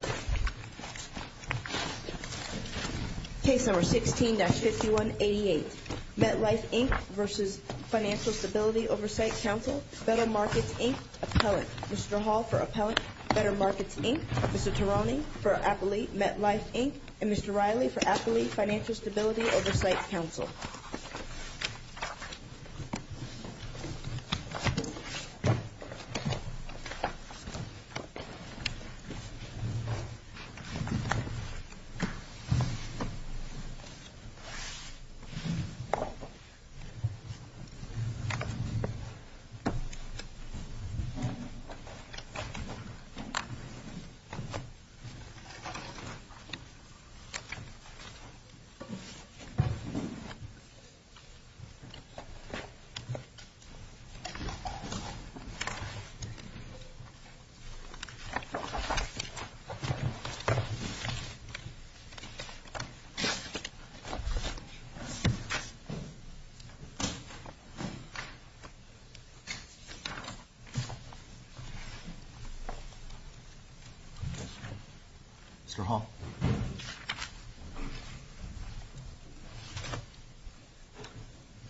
Council, Better Markets, Inc., Appellant. Mr. Hall for Appellant, Better Markets, Inc., Mr. Tarani for Appellate, MetLife, Inc., and Mr. Riley for Appellate, Financial Stability Oversight Council. Mr. Hall?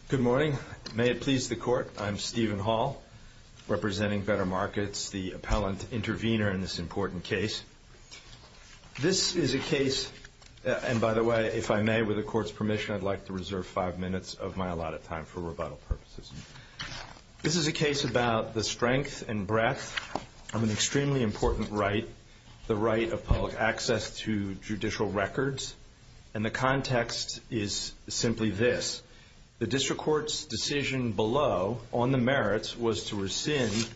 Good morning. May it please the Court, I'm Stephen Hall, representing Better Markets, the Appellant Intervenor in this important case. This is a case, and by the way, if I may, with the Court's permission, I'd like to reserve five minutes of my allotted time for rebuttal purposes. This is a case about the strength and breadth of an extremely important right, the right of public access to judicial records, and the context is simply this. The District Court's decision below on the merits was to rescind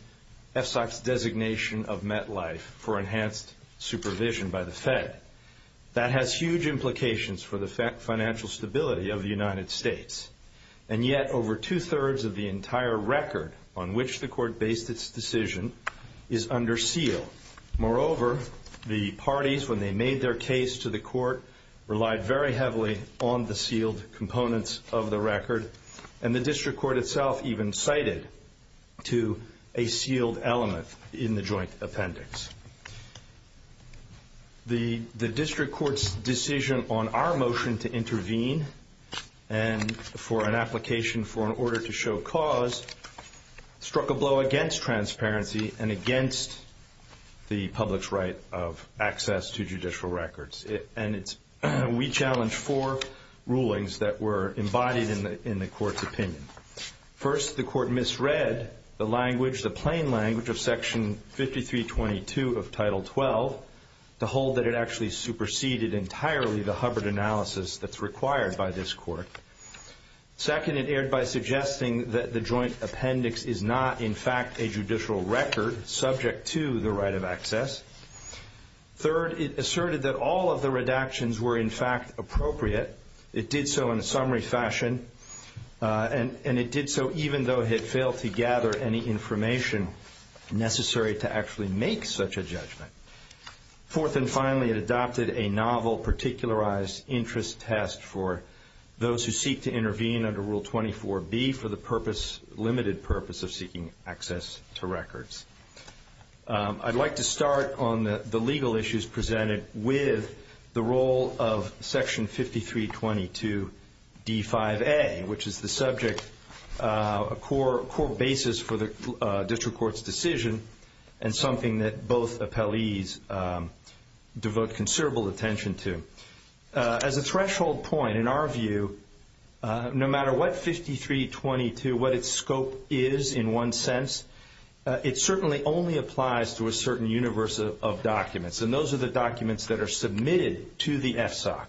FSOC's designation of MetLife for enhanced supervision by the Fed. That has huge implications for the financial stability of the United States, and yet over two-thirds of the entire record on which the Court based its decision is under seal. Moreover, the parties, when they made their case to the Court, relied very heavily on the sealed components of the record, and the District Court itself even cited to a sealed element in the joint appendix. The District Court's decision on our motion to intervene and for an application for an order to show cause struck a blow against transparency and against the public's right of access to judicial records, and we challenged four rulings that were embodied in the Court's opinion. First, the Court misread the language, the plain language of Section 5322 of Title 12 to hold that it actually superseded entirely the Hubbard analysis that's required by this Court. Second, it erred by suggesting that the joint appendix is not, in fact, a judicial record subject to the right of access. Third, it asserted that all of the redactions were, in fact, appropriate. It did so in a summary fashion, and it did so even though it had failed to gather any information necessary to actually make such a judgment. Fourth and finally, it adopted a novel particularized interest test for those who seek to intervene under Rule 24B for the purpose, limited purpose, of seeking access to records. I'd like to start on the legal issues presented with the role of Section 5322 D5A, which is the subject, a core basis for the District Court's decision and something that both appellees devote considerable attention to. As a threshold point, in our view, no matter what 5322, what its scope is in one sense, it certainly only applies to a certain universe of documents, and those are the documents that are submitted to the FSOC.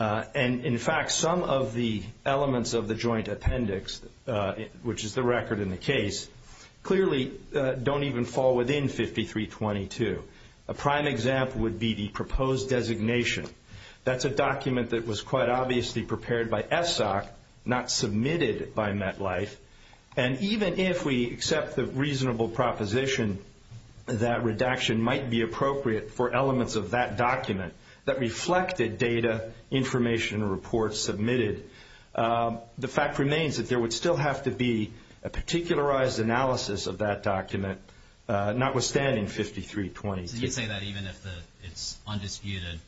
And in fact, some of the elements of the joint appendix, which is the record in the case, clearly don't even fall within 5322. A prime example would be the proposed designation. That's a document that was quite obviously prepared by FSOC, not submitted by MetLife, and even if we accept the reasonable proposition that redaction might be appropriate for elements of that document that reflected data, information, reports submitted, the particularized analysis of that document, notwithstanding 5322. Did you say that even if it's undisputed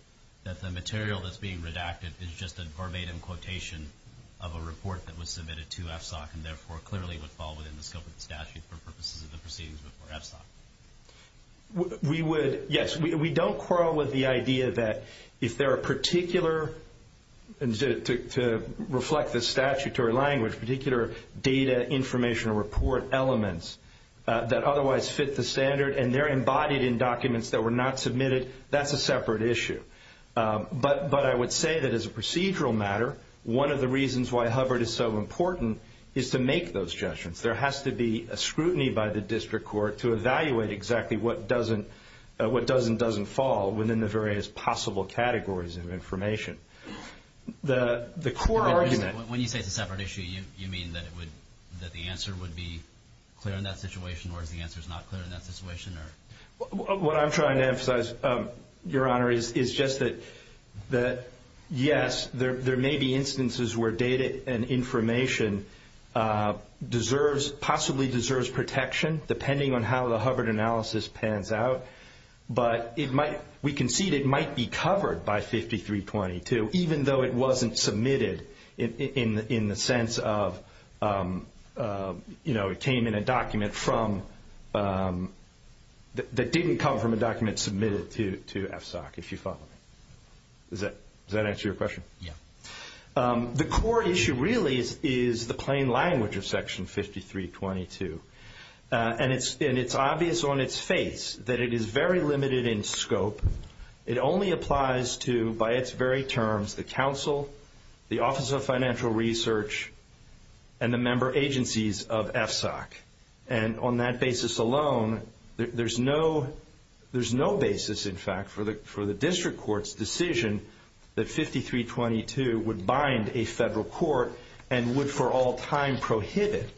that the material that's being redacted is just a verbatim quotation of a report that was submitted to FSOC and therefore clearly would fall within the scope of the statute for purposes of the proceedings before FSOC? Yes. We don't quarrel with the idea that if there are particular, to reflect the statutory language, particular data, information, or report elements that otherwise fit the standard and they're embodied in documents that were not submitted, that's a separate issue. But I would say that as a procedural matter, one of the reasons why Hubbard is so important is to make those judgments. There has to be a scrutiny by the district court to evaluate exactly what does and doesn't fall within the various possible categories of information. When you say it's a separate issue, you mean that the answer would be clear in that situation or the answer is not clear in that situation? What I'm trying to emphasize, Your Honor, is just that yes, there may be instances where data and information possibly deserves protection depending on how the Hubbard analysis pans out, but we concede it might be covered by 5322 even though it wasn't submitted in the sense of it came in a document that didn't come from a document submitted to FSOC, if you follow me. Does that answer your question? Yes. The court issue really is the plain language of Section 5322, and it's obvious on its face that it is very limited in scope. It only applies to, by its very terms, the counsel, the Office of Financial Research, and the member agencies of FSOC. And on that basis alone, there's no basis, in fact, for the district court's decision that 5322 would bind a federal court and would for all time prohibit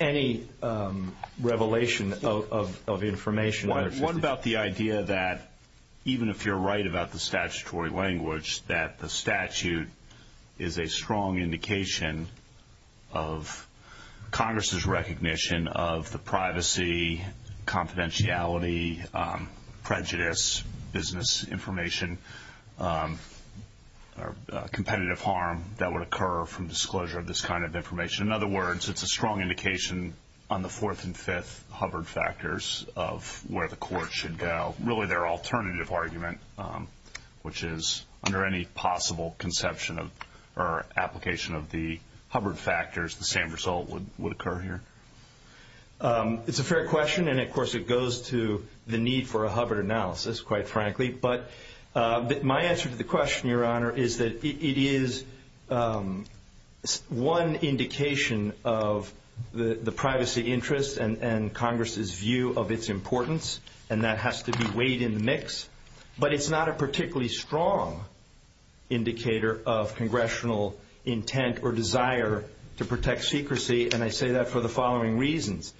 any revelation of information. What about the idea that even if you're right about the statutory language, that the statute is a strong indication of Congress's recognition of the privacy, confidentiality, prejudice, business information, competitive harm that would occur from disclosure of this kind of information? In other words, it's a strong indication on the fourth and fifth Hubbard factors of where the court should go, really their alternative argument, which is under any possible conception or application of the Hubbard factors, the same result would occur here. It's a fair question, and of course it goes to the need for a Hubbard analysis, quite frankly. But my answer to the question, Your Honor, is that it is one indication of the privacy interest and Congress's view of its importance, and that has to be weighed in the mix. But it's not a particularly strong indicator of congressional intent or desire to protect secrecy, and I say that for the following reasons.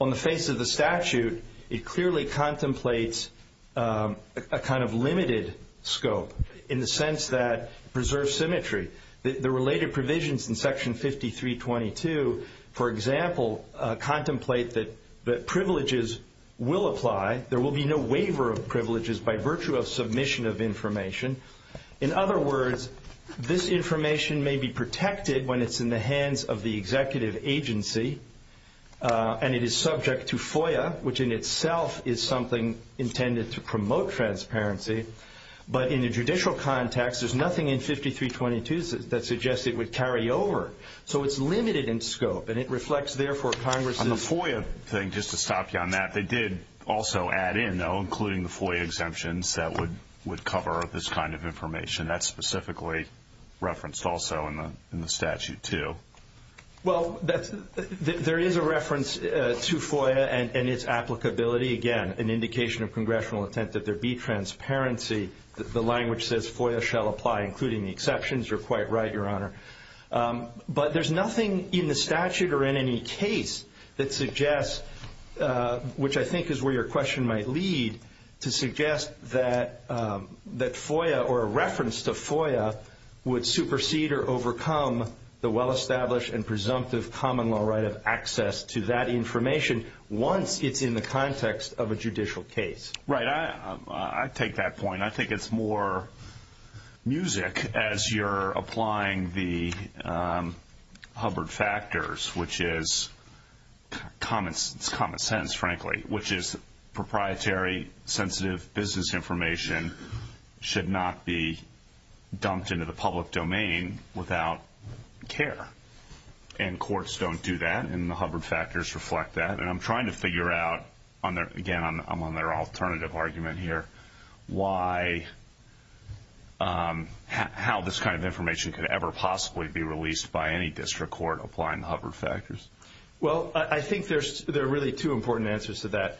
On the face of the statute, it clearly contemplates a kind of limited scope in the sense that it preserves symmetry. The related provisions in Section 5322, for example, contemplate that privileges will apply. There will be no waiver of privileges by virtue of submission of information. In other words, this information may be protected when it's in the hands of the executive agency, and it is subject to FOIA, which in itself is something intended to promote transparency. But in a judicial context, there's nothing in 5322 that suggests it would carry over. So it's limited in scope, and it reflects, therefore, Congress's— I think just to stop you on that, they did also add in, though, including the FOIA exemptions that would cover this kind of information. That's specifically referenced also in the statute, too. Well, there is a reference to FOIA and its applicability. Again, an indication of congressional intent that there be transparency. The language says FOIA shall apply, including the exceptions. You're quite right, Your Honor. But there's nothing in the statute or in any case that suggests, which I think is where your question might lead, to suggest that FOIA or a reference to FOIA would supersede or overcome the well-established and presumptive common law right of access to that information once it's in the context of a judicial case. Right. I take that point. I think it's more music as you're applying the Hubbard factors, which is common sense, frankly, which is proprietary sensitive business information should not be dumped into the public domain without care. And courts don't do that, and the Hubbard factors reflect that. And I'm trying to figure out, again, I'm on their alternative argument here, how this kind of information could ever possibly be released by any district court applying the Hubbard factors. Well, I think there are really two important answers to that.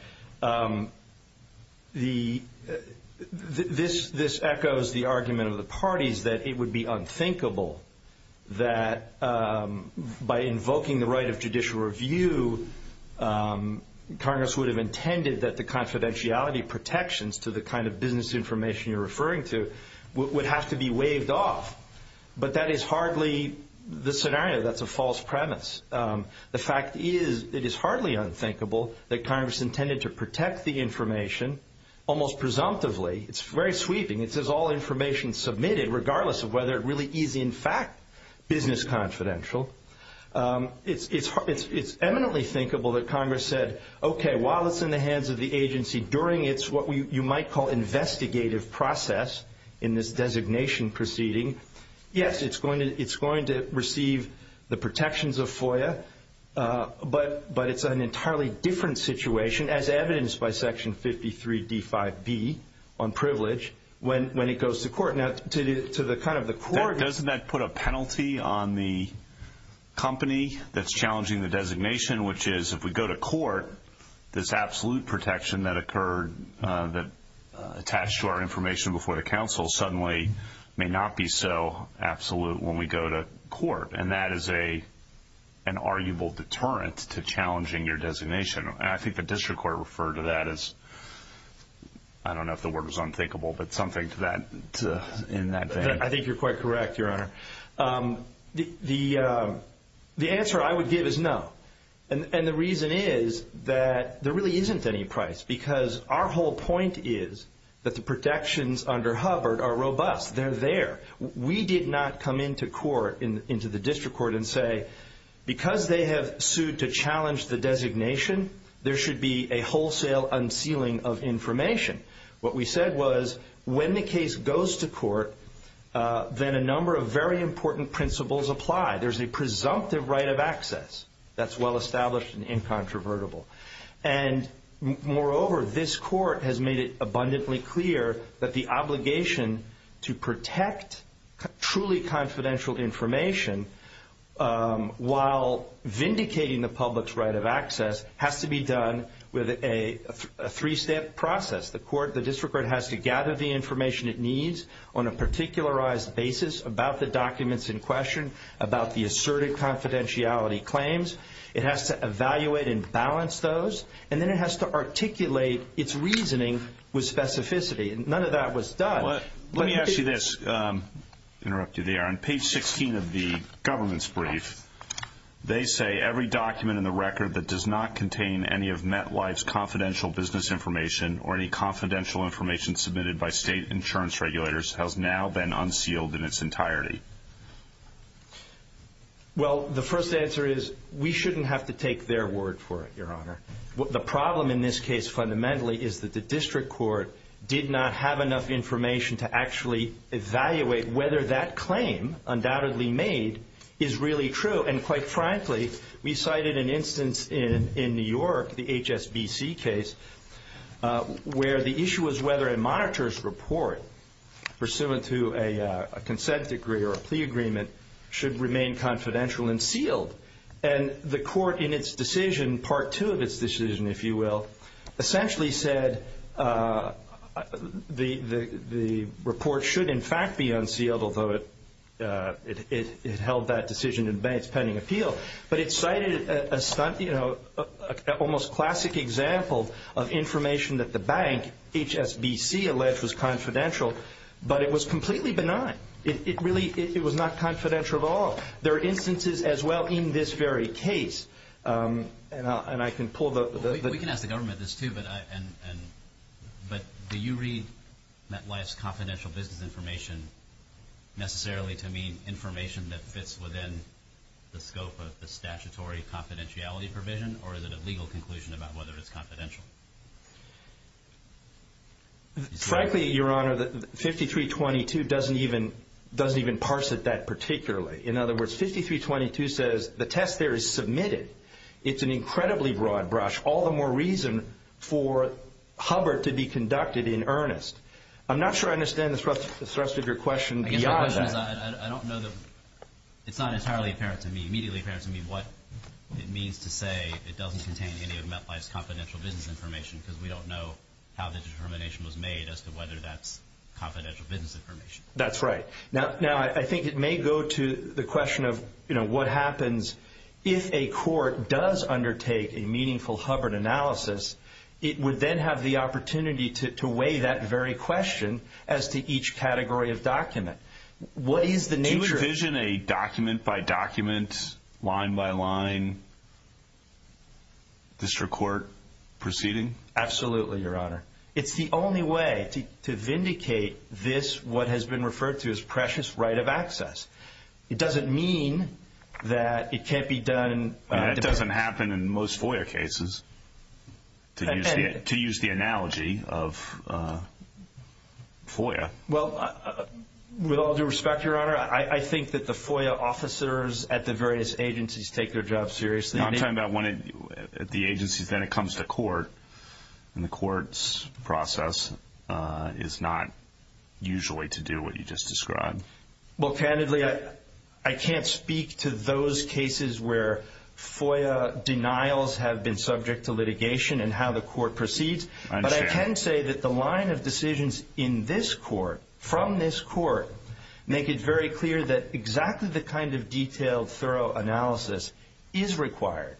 This echoes the argument of the parties that it would be unthinkable that by invoking the right of judicial review, Congress would have intended that the confidentiality protections to the kind of business information you're referring to would have to be waived off. But that is hardly the scenario. That's a false premise. The fact is it is hardly unthinkable that Congress intended to protect the information, almost presumptively, it's very sweeping, it says all information submitted, regardless of whether it really is, in fact, business confidential. It's eminently thinkable that Congress said, okay, while it's in the hands of the agency, during its what you might call investigative process in this designation proceeding, yes, it's going to receive the protections of FOIA, but it's an entirely different situation, as evidenced by Section 53D5B on privilege when it goes to court. Now, doesn't that put a penalty on the company that's challenging the designation, which is if we go to court, this absolute protection that occurred that attached to our information before the counsel suddenly may not be so absolute when we go to court, and that is an arguable deterrent to challenging your designation. And I think the district court referred to that as, I don't know if the word was unthinkable, but something to that, in that sense. I think you're quite correct, Your Honor. The answer I would give is no, and the reason is that there really isn't any price, because our whole point is that the protections under Hubbard are robust. They're there. We did not come into court, into the district court and say, because they have sued to challenge the designation, there should be a wholesale unsealing of information. What we said was when the case goes to court, then a number of very important principles apply. There's a presumptive right of access that's well established and incontrovertible. Moreover, this court has made it abundantly clear that the obligation to protect truly confidential information while vindicating the public's right of access has to be done with a three-step process. The district court has to gather the information it needs on a particularized basis about the documents in question, about the asserted confidentiality claims. It has to evaluate and balance those, and then it has to articulate its reasoning with specificity. None of that was done. Let me ask you this, interrupt you there. On page 16 of the government's brief, they say, every document in the record that does not contain any of METWI's confidential business information or any confidential information submitted by state insurance regulators has now been unsealed in its entirety. Well, the first answer is we shouldn't have to take their word for it, Your Honor. The problem in this case fundamentally is that the district court did not have enough information to actually evaluate whether that claim undoubtedly made is really true. And quite frankly, we cited an instance in New York, the HSBC case, where the issue was whether a monitor's report pursuant to a consent decree or a plea agreement should remain confidential and sealed. And the court in its decision, part two of its decision, if you will, essentially said the report should in fact be unsealed, although it held that decision in bank's pending appeal. But it cited a almost classic example of information that the bank, HSBC, alleged was confidential, but it was completely benign. It really was not confidential at all. There are instances as well in this very case. And I can pull the... We can ask the government this too, but do you read METWI's confidential business information necessarily to mean information that fits within the scope of the statutory confidentiality provision, or is it a legal conclusion about whether it's confidential? Frankly, Your Honor, 5322 doesn't even parse it that particularly. In other words, 5322 says the test there is submitted. It's an incredibly broad brush, all the more reason for Hubbard to be conducted in earnest. I'm not sure I understand the thrust of your question beyond that. I don't know the... It's not entirely apparent to me, immediately apparent to me, what it means to say it doesn't contain any of METWI's confidential business information because we don't know how the determination was made as to whether that's confidential business information. That's right. Now, I think it may go to the question of, you know, what happens if a court does undertake a meaningful Hubbard analysis, it would then have the opportunity to weigh that very question as to each category of document. What is the nature of... Do you envision a document-by-document, line-by-line district court proceeding? Absolutely, Your Honor. It's the only way to vindicate this, what has been referred to as precious right of access. It doesn't mean that it can't be done... That doesn't happen in most FOIA cases, to use the analogy of FOIA. Well, with all due respect, Your Honor, I think that the FOIA officers at the various agencies take their job seriously. I'm talking about when the agency then comes to court, and the court's process is not usually to do what you just described. Well, candidly, I can't speak to those cases where FOIA denials have been subject to litigation and how the court proceeds. But I can say that the line of decisions in this court, from this court, make it very clear that exactly the kind of detailed, thorough analysis is required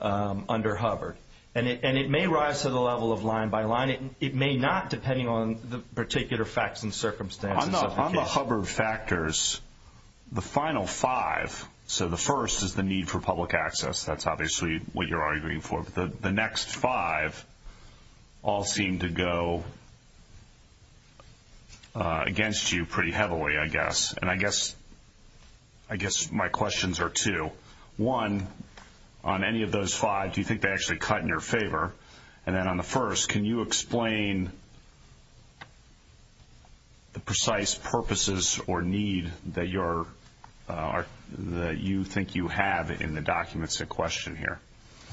under Hubbard. And it may rise to the level of line-by-line. It may not, depending on the particular facts and circumstances. On the Hubbard factors, the final five, so the first is the need for public access. That's obviously what you're arguing for. The next five all seem to go against you pretty heavily, I guess. And I guess my questions are two. One, on any of those five, do you think they actually cut in your favor? And then on the first, can you explain the precise purposes or need that you think you have in the documents at question here?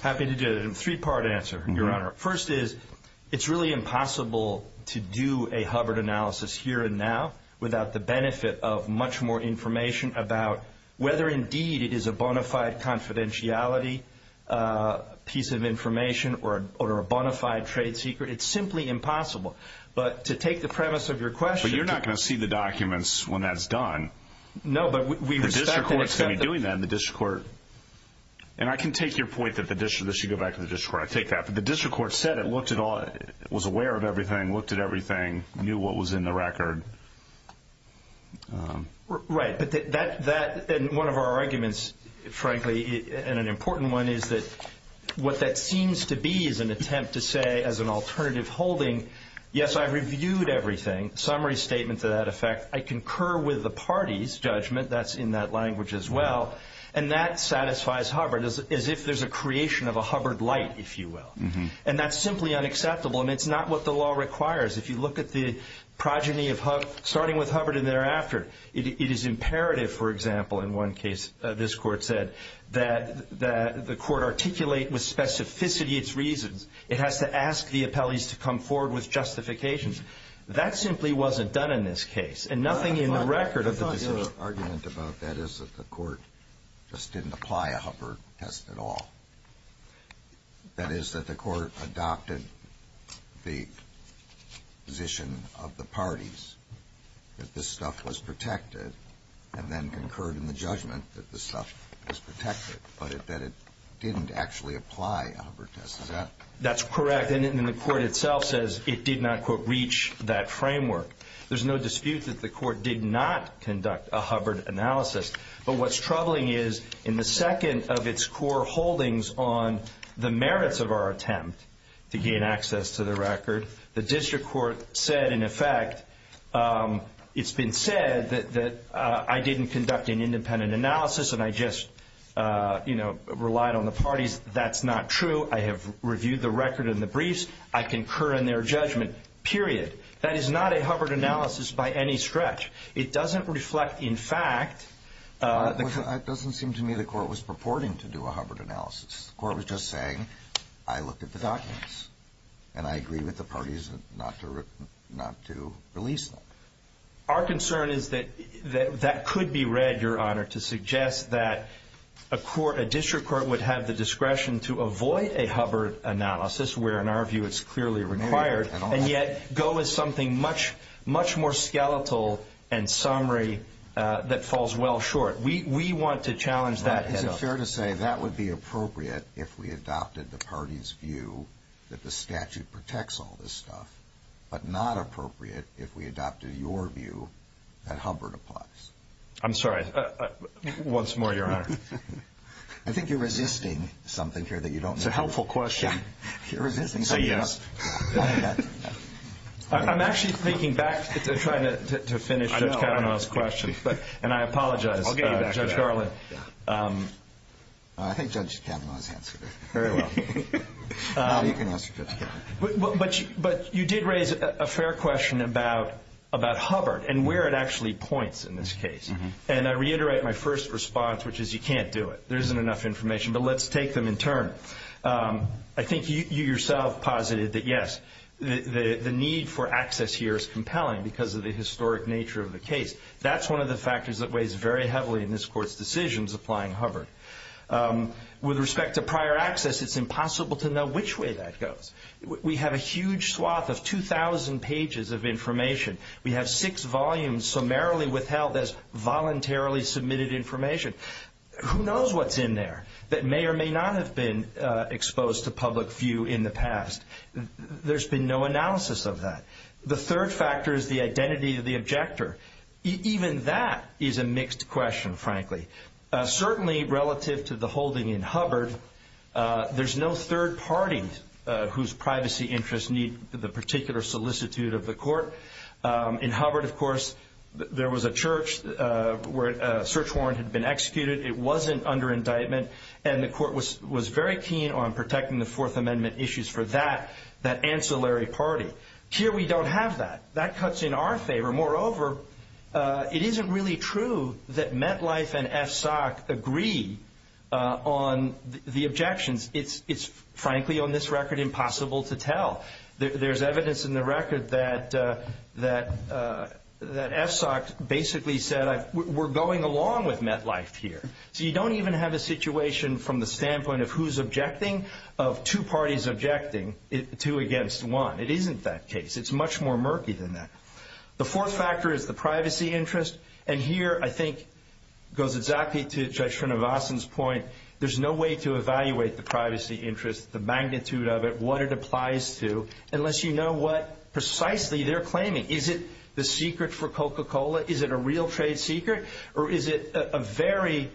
Happy to do a three-part answer, Your Honor. First is, it's really impossible to do a Hubbard analysis here and now without the benefit of much more information about whether, indeed, it is a bona fide confidentiality piece of information or a bona fide trade secret. It's simply impossible. But to take the premise of your question. But you're not going to see the documents when that's done. No, but we respect that. The district court is going to be doing that, and the district court. And I can take your point that you should go back to the district court. I take that. But the district court said it, was aware of everything, looked at everything, knew what was in the record. Right. And one of our arguments, frankly, and an important one, is that what that seems to be is an attempt to say, as an alternative holding, yes, I reviewed everything, summary statement to that effect. I concur with the party's judgment. That's in that language as well. And that satisfies Hubbard, as if there's a creation of a Hubbard light, if you will. And that's simply unacceptable, and it's not what the law requires. If you look at the progeny of Hubbard, starting with Hubbard and thereafter, it is imperative, for example, in one case, this court said, that the court articulate with specificity its reasons. It has to ask the appellees to come forward with justifications. That simply wasn't done in this case, and nothing in the record. The argument about that is that the court just didn't apply a Hubbard test at all. That is, that the court adopted the position of the parties that this stuff was protected, and then concurred in the judgment that this stuff was protected, but that it didn't actually apply a Hubbard test. Is that correct? That's correct. And the court itself says it did not, quote, reach that framework. There's no dispute that the court did not conduct a Hubbard analysis. But what's troubling is, in the second of its core holdings on the merits of our attempt to gain access to the record, the district court said, in effect, it's been said that I didn't conduct an independent analysis, and I just, you know, relied on the parties. That's not true. I have reviewed the record and the briefs. I concur in their judgment, period. That is not a Hubbard analysis by any stretch. It doesn't reflect, in fact. It doesn't seem to me the court was purporting to do a Hubbard analysis. The court was just saying, I looked at the documents, and I agree with the parties not to release them. Our concern is that that could be read, Your Honor, to suggest that a district court would have the discretion to avoid a Hubbard analysis, where in our view it's clearly required, and yet go with something much more skeletal and summary that falls well short. We want to challenge that head-up. Is it fair to say that would be appropriate if we adopted the parties' view that the statute protects all this stuff, but not appropriate if we adopted your view that Hubbard applies? I'm sorry. Once more, Your Honor. I think you're resisting something here that you don't know. It's a helpful question. You're resisting something else. I'm actually thinking back to try to finish Judge Kavanaugh's question, and I apologize, Judge Garland. I think Judge Kavanaugh has answered it. Very well. But you did raise a fair question about Hubbard and where it actually points in this case, and I reiterate my first response, which is you can't do it. There isn't enough information, but let's take them in turn. I think you yourself posited that, yes, the need for access here is compelling because of the historic nature of the case. That's one of the factors that weighs very heavily in this Court's decisions applying Hubbard. With respect to prior access, it's impossible to know which way that goes. We have a huge swath of 2,000 pages of information. We have six volumes summarily withheld as voluntarily submitted information. Who knows what's in there that may or may not have been exposed to public view in the past? There's been no analysis of that. The third factor is the identity of the objector. Even that is a mixed question, frankly. Certainly relative to the holding in Hubbard, there's no third party whose privacy interests need the particular solicitude of the Court. In Hubbard, of course, there was a church where a search warrant had been executed. It wasn't under indictment, and the Court was very keen on protecting the Fourth Amendment issues for that ancillary party. Here we don't have that. That cuts in our favor. Moreover, it isn't really true that MetLife and SSOC agree on the objections. Well, there's evidence in the record that SSOC basically said, we're going along with MetLife here. So you don't even have a situation from the standpoint of who's objecting of two parties objecting, two against one. It isn't that case. It's much more murky than that. The fourth factor is the privacy interest. And here, I think, goes exactly to Judge Srinivasan's point. There's no way to evaluate the privacy interest, the magnitude of it, what it applies to, unless you know what precisely they're claiming. Is it the secret for Coca-Cola? Is it a real trade secret? Or is it a very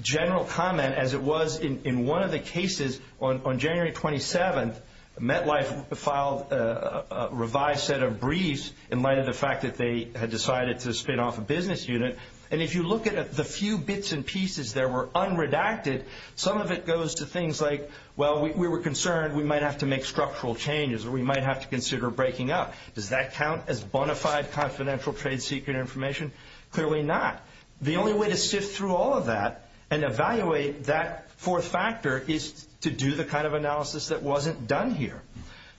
general comment, as it was in one of the cases on January 27th? MetLife filed a revised set of briefs in light of the fact that they had decided to spit off a business unit. And if you look at the few bits and pieces that were unredacted, some of it goes to things like, well, we were concerned we might have to make structural changes, or we might have to consider breaking up. Does that count as bona fide confidential trade secret information? Clearly not. The only way to sift through all of that and evaluate that fourth factor is to do the kind of analysis that wasn't done here.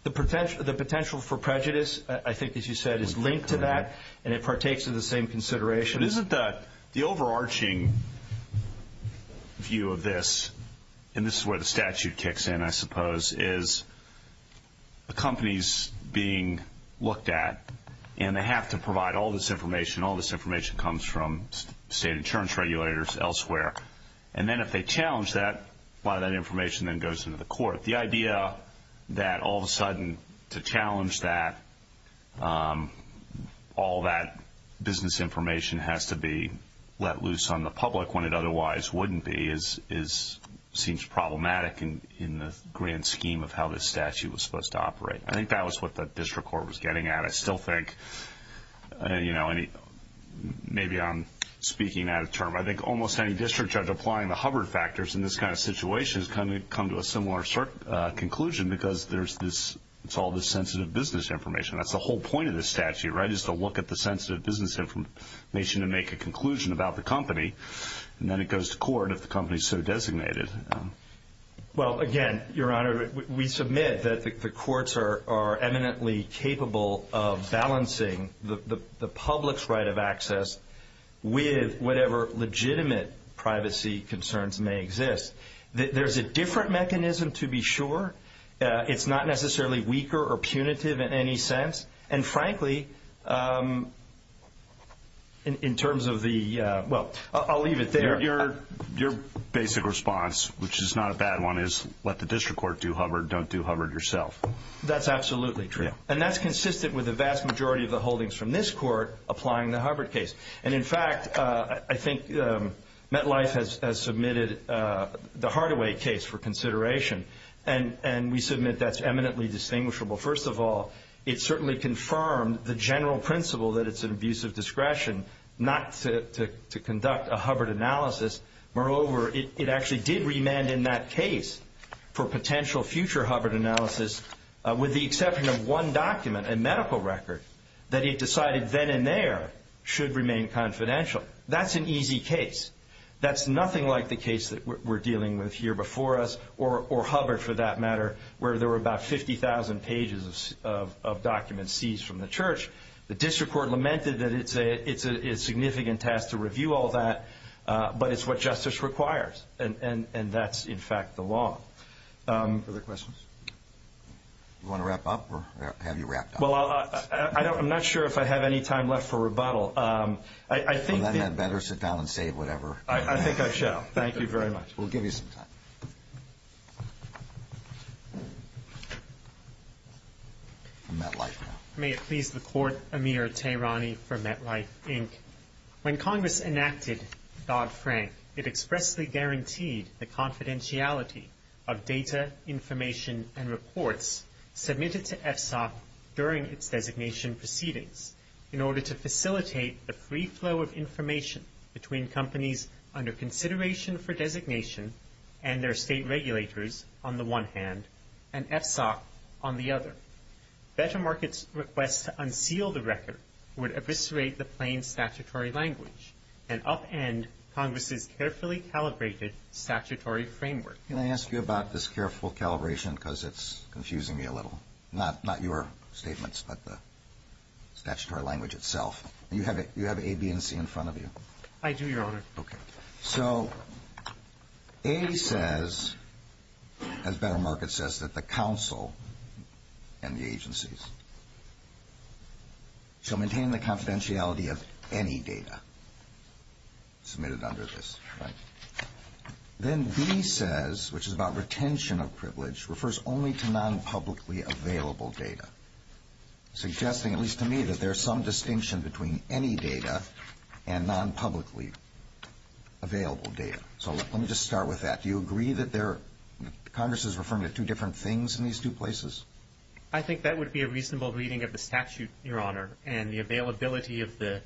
The potential for prejudice, I think, as you said, is linked to that, and it partakes of the same consideration. Isn't the overarching view of this, and this is where the statute kicks in, I suppose, is a company's being looked at, and they have to provide all this information. All this information comes from state insurance regulators elsewhere. And then if they challenge that, a lot of that information then goes to the court. The idea that all of a sudden to challenge that all that business information has to be let loose on the public when it otherwise wouldn't be seems problematic in the grand scheme of how this statute was supposed to operate. I think that was what the district court was getting at. I still think, you know, maybe I'm speaking out of turn, but I think almost any district judge applying the Hubbard factors in this kind of situation has come to a similar conclusion because it's all this sensitive business information. That's the whole point of this statute, right, is to look at the sensitive business information and make a conclusion about the company, and then it goes to court if the company is so designated. Well, again, Your Honor, we submit that the courts are eminently capable of balancing the public's right of access with whatever legitimate privacy concerns may exist. There's a different mechanism to be sure. It's not necessarily weaker or punitive in any sense. And frankly, in terms of the – well, I'll leave it there. Your basic response, which is not a bad one, is let the district court do Hubbard, don't do Hubbard yourself. That's absolutely true. And that's consistent with the vast majority of the holdings from this court applying the Hubbard case. And, in fact, I think MetLife has submitted the Hardaway case for consideration, and we submit that's eminently distinguishable. First of all, it certainly confirmed the general principle that it's an abuse of discretion not to conduct a Hubbard analysis. Moreover, it actually did remand in that case for potential future Hubbard analysis with the exception of one document, a medical record, that it decided then and there should remain confidential. That's an easy case. That's nothing like the case that we're dealing with here before us, or Hubbard for that matter, where there were about 50,000 pages of documents seized from the church. The district court lamented that it's a significant task to review all that, but it's what justice requires. And that's, in fact, the law. Other questions? Do you want to wrap up, or have you wrapped up? Well, I'm not sure if I have any time left for rebuttal. Well, then you'd better sit down and say whatever. I think I shall. Thank you very much. We'll give you some time. MetLife now. May it please the Court, Amir Tehrani for MetLife, Inc. When Congress enacted Dodd-Frank, it expressly guaranteed the confidentiality of data, information, and reports submitted to FSOC during its designation proceedings in order to facilitate a free flow of information between companies under consideration for designation and their state regulators, on the one hand, and FSOC, on the other. Federal markets' request to unseal the record would eviscerate the plain statutory language and upend Congress's carefully calibrated statutory framework. Can I ask you about this careful calibration, because it's confusing me a little? Not your statements, but the statutory language itself. You have A, B, and C in front of you. I do, Your Honor. Okay. So A says, as Federal market says, that the counsel and the agencies shall maintain the confidentiality of any data submitted under this. Then B says, which is about retention of privilege, refers only to non-publicly available data, suggesting, at least to me, that there's some distinction between any data and non-publicly available data. So let me just start with that. Do you agree that Congress is referring to two different things in these two places? I think that would be a reasonable reading of the statute, Your Honor, and the availability of the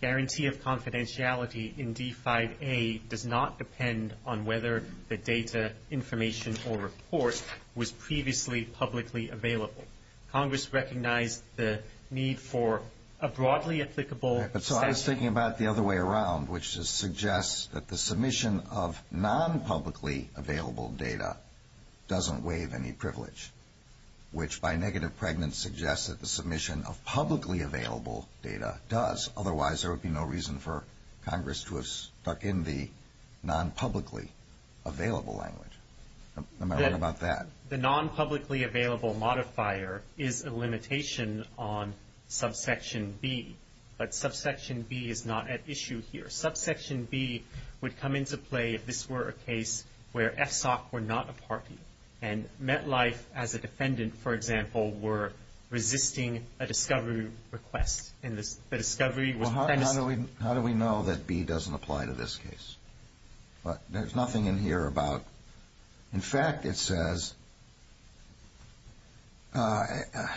guarantee of confidentiality in D-5A does not depend on whether the data, information, or report was previously publicly available. Congress recognized the need for a broadly applicable statute. So I was thinking about it the other way around, which suggests that the submission of non-publicly available data doesn't waive any privilege, which by negative pregnancy suggests that the submission of publicly available data does. Otherwise, there would be no reason for Congress to have stuck in the non-publicly available language. What about that? The non-publicly available modifier is a limitation on subsection B, but subsection B is not at issue here. Subsection B would come into play if this were a case where FSOC were not a party and MetLife as a defendant, for example, were resisting a discovery request. How do we know that B doesn't apply to this case? But there's nothing in here about. In fact, it says it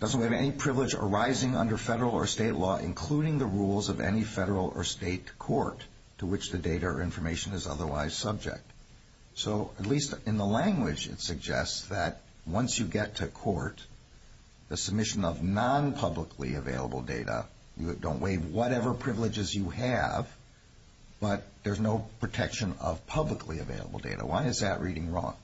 doesn't waive any privilege arising under federal or state law, including the rules of any federal or state court to which the data or information is otherwise subject. So at least in the language, it suggests that once you get to court, the submission of non-publicly available data, you don't waive whatever privileges you have, but there's no protection of publicly available data. Why is that reading wrong?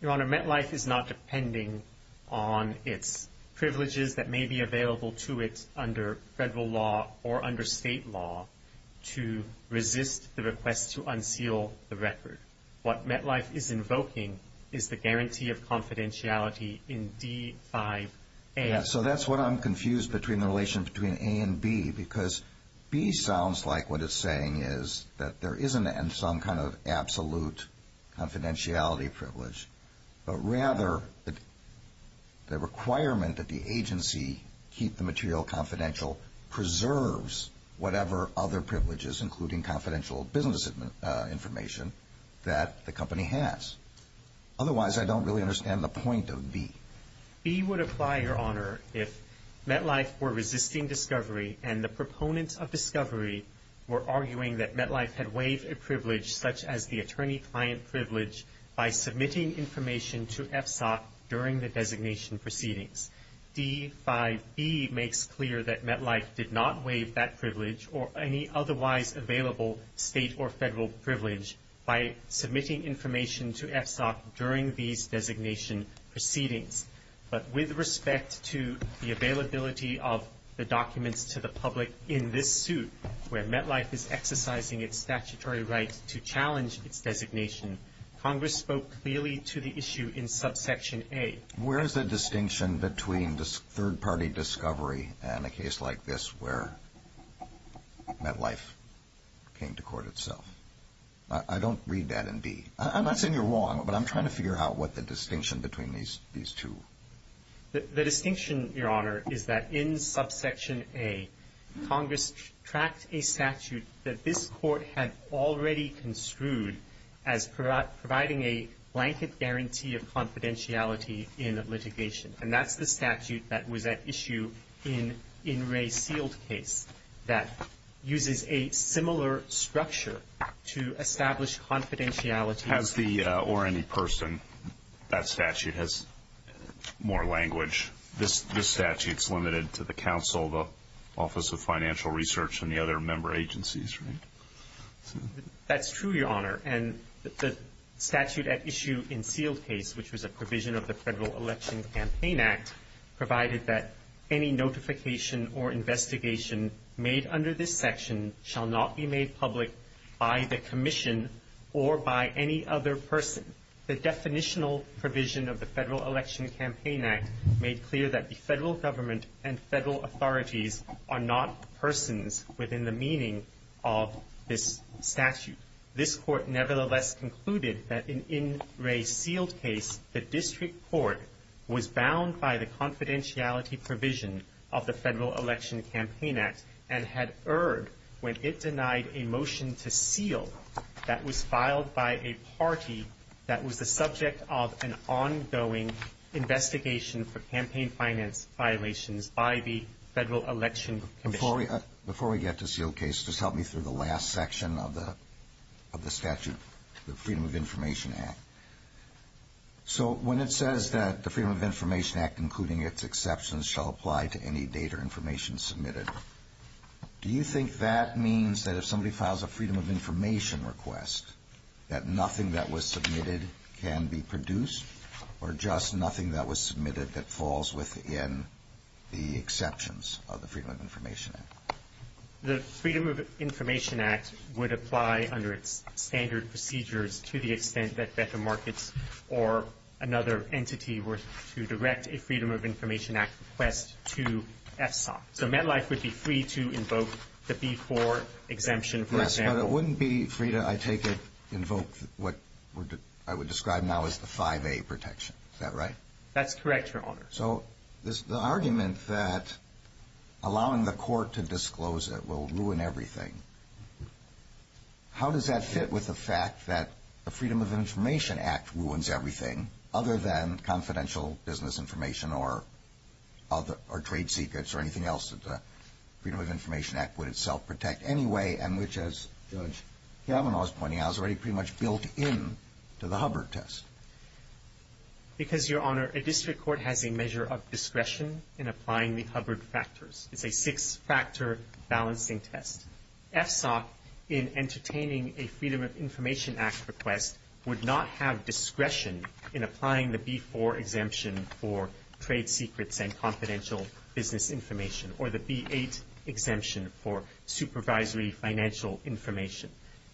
Your Honor, MetLife is not depending on its privileges that may be available to it under federal law or under state law to resist the request to unseal the record. What MetLife is invoking is the guarantee of confidentiality in D-5-A. So that's what I'm confused between the relation between A and B, because B sounds like what it's saying is that there isn't some kind of absolute confidentiality privilege, but rather the requirement that the agency keep the material confidential preserves whatever other privileges, including confidential business information, that the company has. Otherwise, I don't really understand the point of B. B would apply, Your Honor, if MetLife were resisting discovery and the proponents of discovery were arguing that MetLife had waived a privilege, such as the attorney-client privilege, by submitting information to FSOC during the designation proceedings. D-5-B makes clear that MetLife did not waive that privilege or any otherwise available state or federal privilege by submitting information to FSOC during these designation proceedings. But with respect to the availability of the documents to the public in this suit, where MetLife is exercising its statutory right to challenge its designation, Congress spoke clearly to the issue in subsection A. Where is the distinction between this third-party discovery and a case like this, where MetLife came to court itself? I don't read that in B. I'm not saying you're wrong, but I'm trying to figure out what the distinction between these two. The distinction, Your Honor, is that in subsection A, Congress tracked a statute that this court had already construed as providing a blanket guarantee of confidentiality in litigation, and that's the statute that was at issue in Ray Field's case that uses a similar structure to establish confidentiality. Or any person. That statute has more language. This statute's limited to the counsel, the Office of Financial Research, and the other member agencies, right? That's true, Your Honor. And the statute at issue in Field's case, which was a provision of the Federal Election Campaign Act, provided that any notification or investigation made under this section shall not be made public by the Commission or by any other person. The definitional provision of the Federal Election Campaign Act made clear that the federal government and federal authorities are not persons within the meaning of this statute. This court nevertheless concluded that in Ray Field's case, the district court was bound by the confidentiality provision of the Federal Election Campaign Act and had erred when it denied a motion to seal that was filed by a party that was the subject of an ongoing investigation for campaign finance violations by the Federal Election Commission. Before we get to seal case, just help me through the last section of the statute, the Freedom of Information Act. So when it says that the Freedom of Information Act, including its exceptions, shall apply to any data or information submitted, do you think that means that if somebody files a freedom of information request that nothing that was submitted can be produced or just nothing that was submitted that falls within the exceptions of the Freedom of Information Act? The Freedom of Information Act would apply under standard procedures to the extent that the markets or another entity were to direct a Freedom of Information Act request to SDOT. So MetLife would be free to invoke the B-4 exemption, for example. Yes, but it wouldn't be free to, I take it, invoke what I would describe now as the 5A protection. Is that right? That's correct, Your Honor. So the argument that allowing the court to disclose it will ruin everything, how does that fit with the fact that the Freedom of Information Act ruins everything other than confidential business information or trade secrets or anything else that the Freedom of Information Act would itself protect anyway and which, as Governor Malinowski was pointing out, is already pretty much built into the Hubbard test? It is, Your Honor. A district court has a measure of discretion in applying the Hubbard factors. It's a fixed factor balancing test. SDOT, in entertaining a Freedom of Information Act request, would not have discretion in applying the B-4 exemption for trade secrets and confidential business information or the B-8 exemption for supervisory financial information.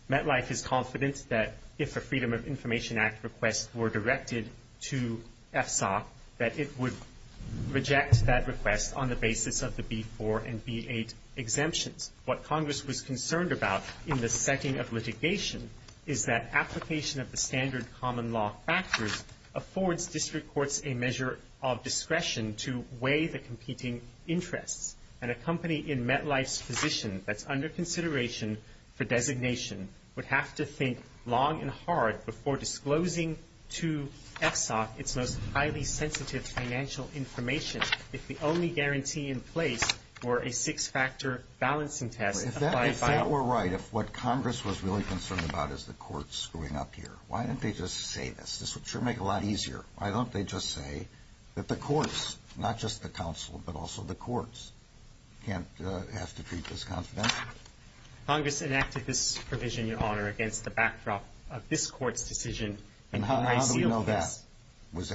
MetLife is confident that if a Freedom of Information Act request were directed to SDOT, that it would reject that request on the basis of the B-4 and B-8 exemptions. What Congress was concerned about in the second of litigation is that application of the standard common law factors affords district courts a measure of discretion to weigh the competing interests, and a company in MetLife's position that's under consideration for designation would have to think long and hard before disclosing to FSOC its most highly sensitive financial information if the only guarantee in place were a fixed factor balancing test. If that were right, if what Congress was really concerned about is the courts screwing up here, why don't they just say this? This would make it a lot easier. Why don't they just say that the courts, not just the council, but also the courts, can't have to treat this confidential? Congress enacted this provision, Your Honor, against the backdrop of this court's decision. And how do we know that? Is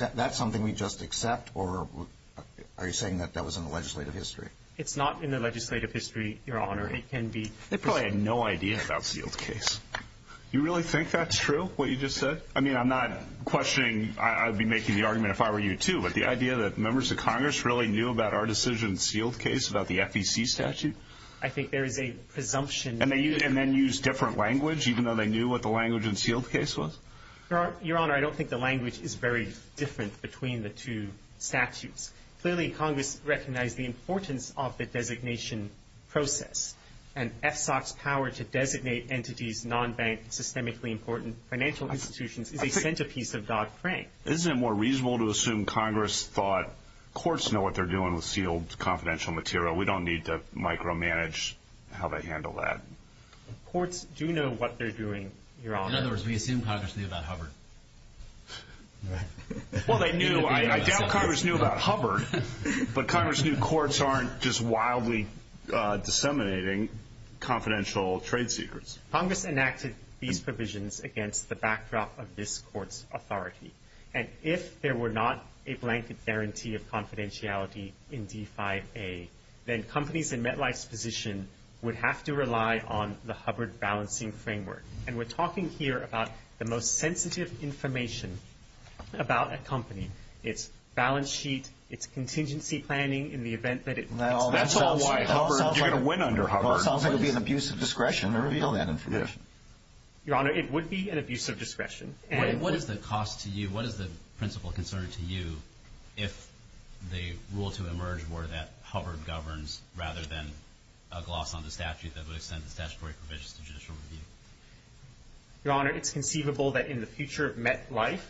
that something we just accept, or are you saying that that was in the legislative history? It's not in the legislative history, Your Honor. They probably have no idea about the field case. You really think that's true, what you just said? I mean, I'm not questioning. I would be making the argument if I were you, too. But the idea that members of Congress really knew about our decision in the field case, about the FEC statute? I think there is a presumption. And then use different language, even though they knew what the language in the field case was? Your Honor, I don't think the language is very different between the two statutes. Clearly, Congress recognized the importance of the designation process, and FSOC's power to designate entities, non-bank, systemically important financial institutions, is a centerpiece of Dodd-Frank. Isn't it more reasonable to assume Congress thought, courts know what they're doing with sealed confidential material. We don't need to micromanage how they handle that. Courts do know what they're doing, Your Honor. In other words, we assume Congress knew about Hubbard. Well, they knew. I doubt Congress knew about Hubbard. But Congress knew courts aren't just wildly disseminating confidential trade secrets. Congress enacted these provisions against the backdrop of this court's authority. And if there were not a blanket guarantee of confidentiality in D5A, then companies in MetLife's position would have to rely on the Hubbard balancing framework. And we're talking here about the most sensitive information about a company. It's balance sheet, it's contingency planning in the event that it... Well, that's all wild. You're going to win under Hubbard. It's also going to be an abuse of discretion. We already know that information. Your Honor, it would be an abuse of discretion. What is the cost to you? What is the principle concern to you if the rule to emerge were that Hubbard governs rather than a gloss on the statute that would extend the statutory provisions of judicial review? Your Honor, it's conceivable that in the future MetLife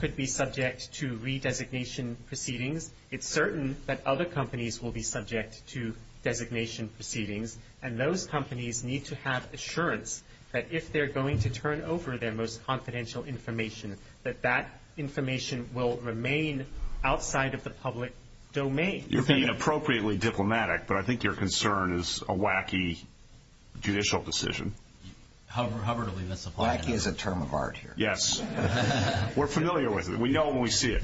could be subject to redesignation proceedings. It's certain that other companies will be subject to designation proceedings. And those companies need to have assurance that if they're going to turn over their most confidential information, that that information will remain outside of the public domain. You're being appropriately diplomatic, but I think your concern is a wacky judicial decision. Hubbard only misapplied it. Wacky is a term of art here. Yes. We're familiar with it. We know when we see it.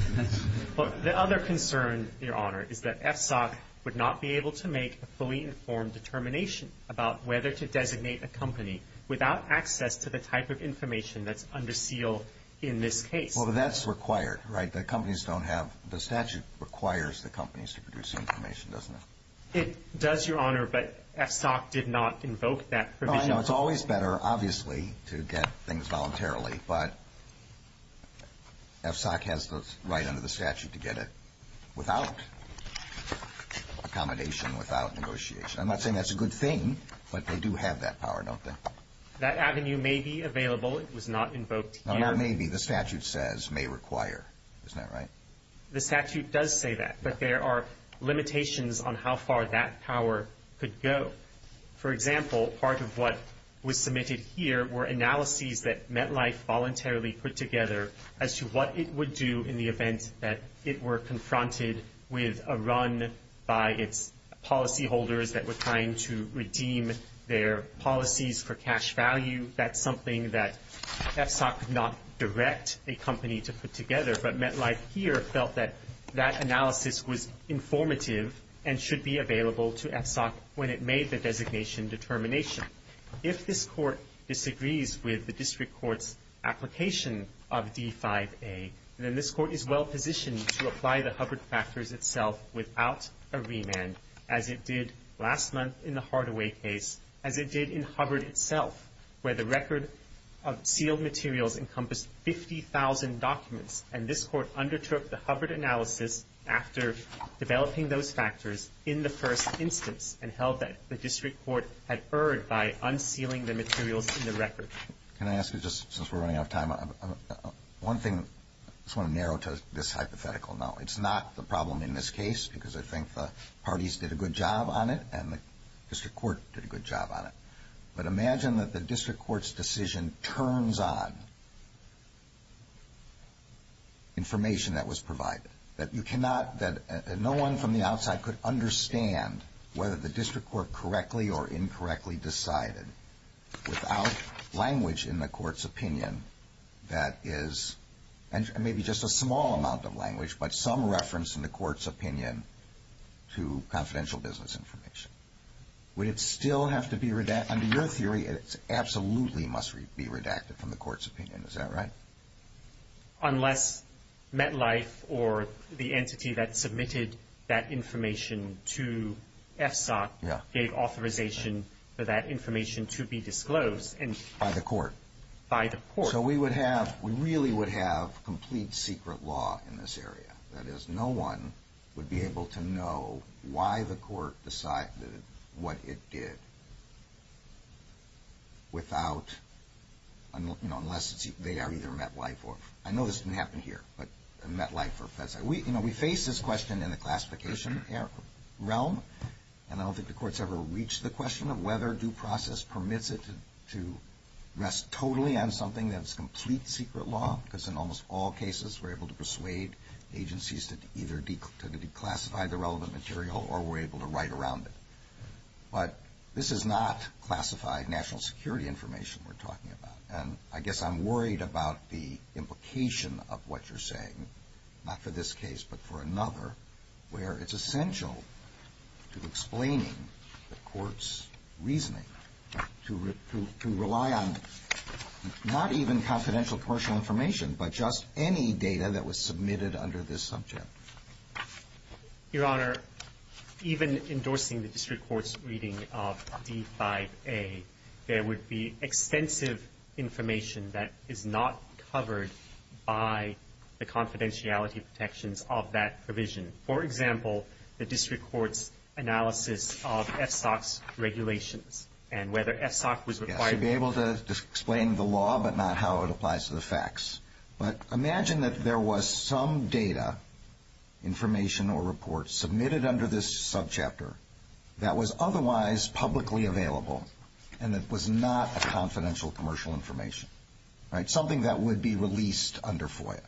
The other concern, Your Honor, is that FSOC would not be able to make a fully informed determination about whether to designate a company without access to the type of information that's under seal in this case. Well, that's required, right? The statute requires the companies to produce the information, doesn't it? It does, Your Honor, but FSOC did not invoke that provision. It's always better, obviously, to get things voluntarily, but FSOC has the right under the statute to get it without accommodation, without negotiation. I'm not saying that's a good thing, but they do have that power, don't they? That avenue may be available. It was not invoked here. It may be. The statute says may require. Isn't that right? The statute does say that, but there are limitations on how far that power could go. For example, part of what was submitted here were analyses that MetLife voluntarily put together as to what it would do in the event that it were confronted with a run by its policyholders that were trying to redeem their policies for cash value. That's something that FSOC did not direct a company to put together, but MetLife here felt that that analysis was informative and should be available to FSOC when it made the designation determination. If this court disagrees with the district court's application of D5A, then this court is well-positioned to apply the Hubbard factors itself without a remand, as it did last month in the Hardaway case, as it did in Hubbard itself, where the record of sealed materials encompassed 50,000 documents, and this court undertook the Hubbard analysis after developing those factors in the first instance and held that the district court had erred by unsealing the materials in the record. Can I ask you, just since we're running out of time, one thing I just want to narrow to this hypothetical. Now, it's not the problem in this case because I think the parties did a good job on it and the district court did a good job on it, but imagine that the district court's decision turns on information that was provided, that no one from the outside could understand whether the district court correctly or incorrectly decided without language in the court's opinion that is, and maybe just a small amount of language, but some reference in the court's opinion to confidential business information. Would it still have to be redacted? Under your theory, it absolutely must be redacted from the court's opinion. Is that right? Unless MetLife or the entity that submitted that information to FSOC gave authorization for that information to be disclosed? By the court. By the court. So we would have, we really would have complete secret law in this area. That is, no one would be able to know why the court decided what it did without, unless they are either MetLife or, I know this didn't happen here, but MetLife or FSOC. We faced this question in the classification realm and I don't think the courts ever reached the question of whether due process permits it to rest totally on something that is complete secret law, because in almost all cases we're able to persuade agencies to either declassify the relevant material or we're able to write around it. But this is not classified national security information we're talking about and I guess I'm worried about the implication of what you're saying, not for this case but for another, where it's essential to explaining the court's reasoning to rely on not even confidential commercial information but just any data that was submitted under this subject. Your Honor, even endorsing the district court's reading of E5A, there would be extensive information that is not covered by the confidentiality protections of that provision. For example, the district court's analysis of FSOC's regulations and whether FSOC was required to be able to explain the law but not how it applies to the facts. But imagine that there was some data, information or reports, submitted under this subchapter that was otherwise publicly available and that was not confidential commercial information, something that would be released under FOIA.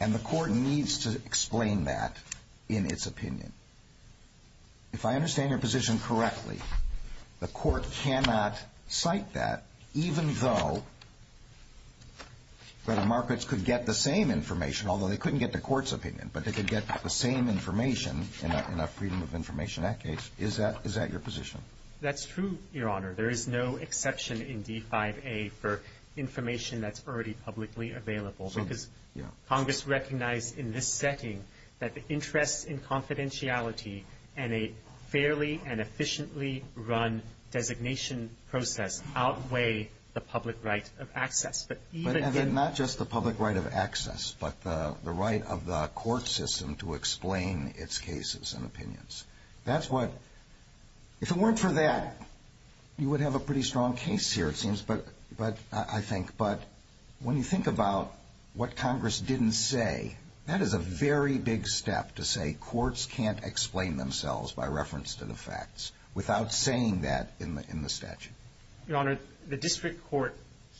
And the court needs to explain that in its opinion. If I understand your position correctly, the court cannot cite that even though the markets could get the same information, although they couldn't get the court's opinion, but they could get the same information, and that freedom of information in that case. Is that your position? That's true, Your Honor. There is no exception in E5A for information that's already publicly available because Congress recognized in this setting that the interest in confidentiality and a fairly and efficiently run designation process outweigh the public right of access. Not just the public right of access, but the right of the court system to explain its cases and opinions. If it weren't for that, you would have a pretty strong case here, it seems, I think. But when you think about what Congress didn't say, that is a very big step to say courts can't explain themselves by reference to the facts without saying that in the statute. Your Honor, the district court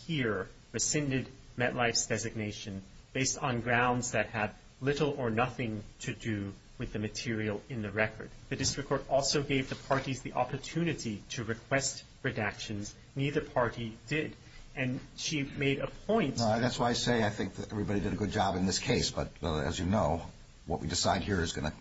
here rescinded Metlife's designation based on grounds that have little or nothing to do with the material in the record. The district court also gave the parties the opportunity to request redactions. Neither party did, and she made a point. That's why I say I think everybody did a good job in this case, but as you know, what we decide here is going to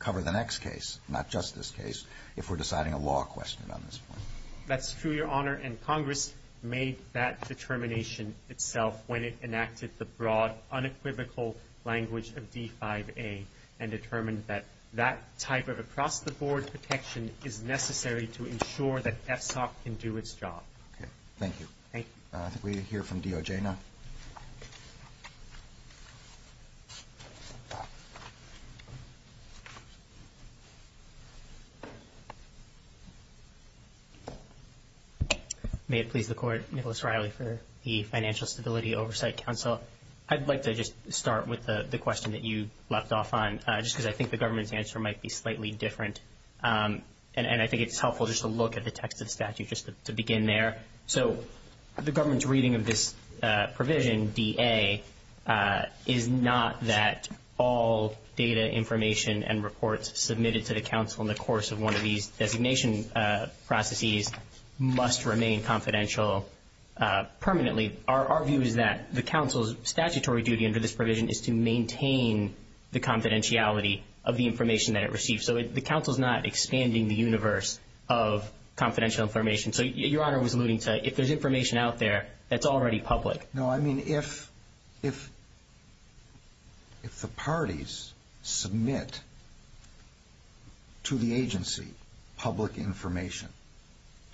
cover the next case, not just this case, if we're deciding a law question on this one. That's true, Your Honor, and Congress made that determination itself when it enacted the broad, unequivocal language of V5A and determined that that type of across-the-board protection is necessary to ensure that FTOC can do its job. Thank you. Thank you. We'll hear from DOJ now. May it please the Court, Nicholas Riley for the Financial Stability Oversight Council. I'd like to just start with the question that you left off on, just because I think the government's answer might be slightly different, and I think it's helpful just to look at the text of the statute just to begin there. So the government's reading of this provision, VA, is not that all data information and reports submitted to the council in the course of one of these designation processes must remain confidential permanently. Our view is that the council's statutory duty under this provision is to maintain the confidentiality of the information that it receives. So the council's not expanding the universe of confidential information. So Your Honor was alluding to if there's information out there that's already public. No, I mean if the parties submit to the agency public information,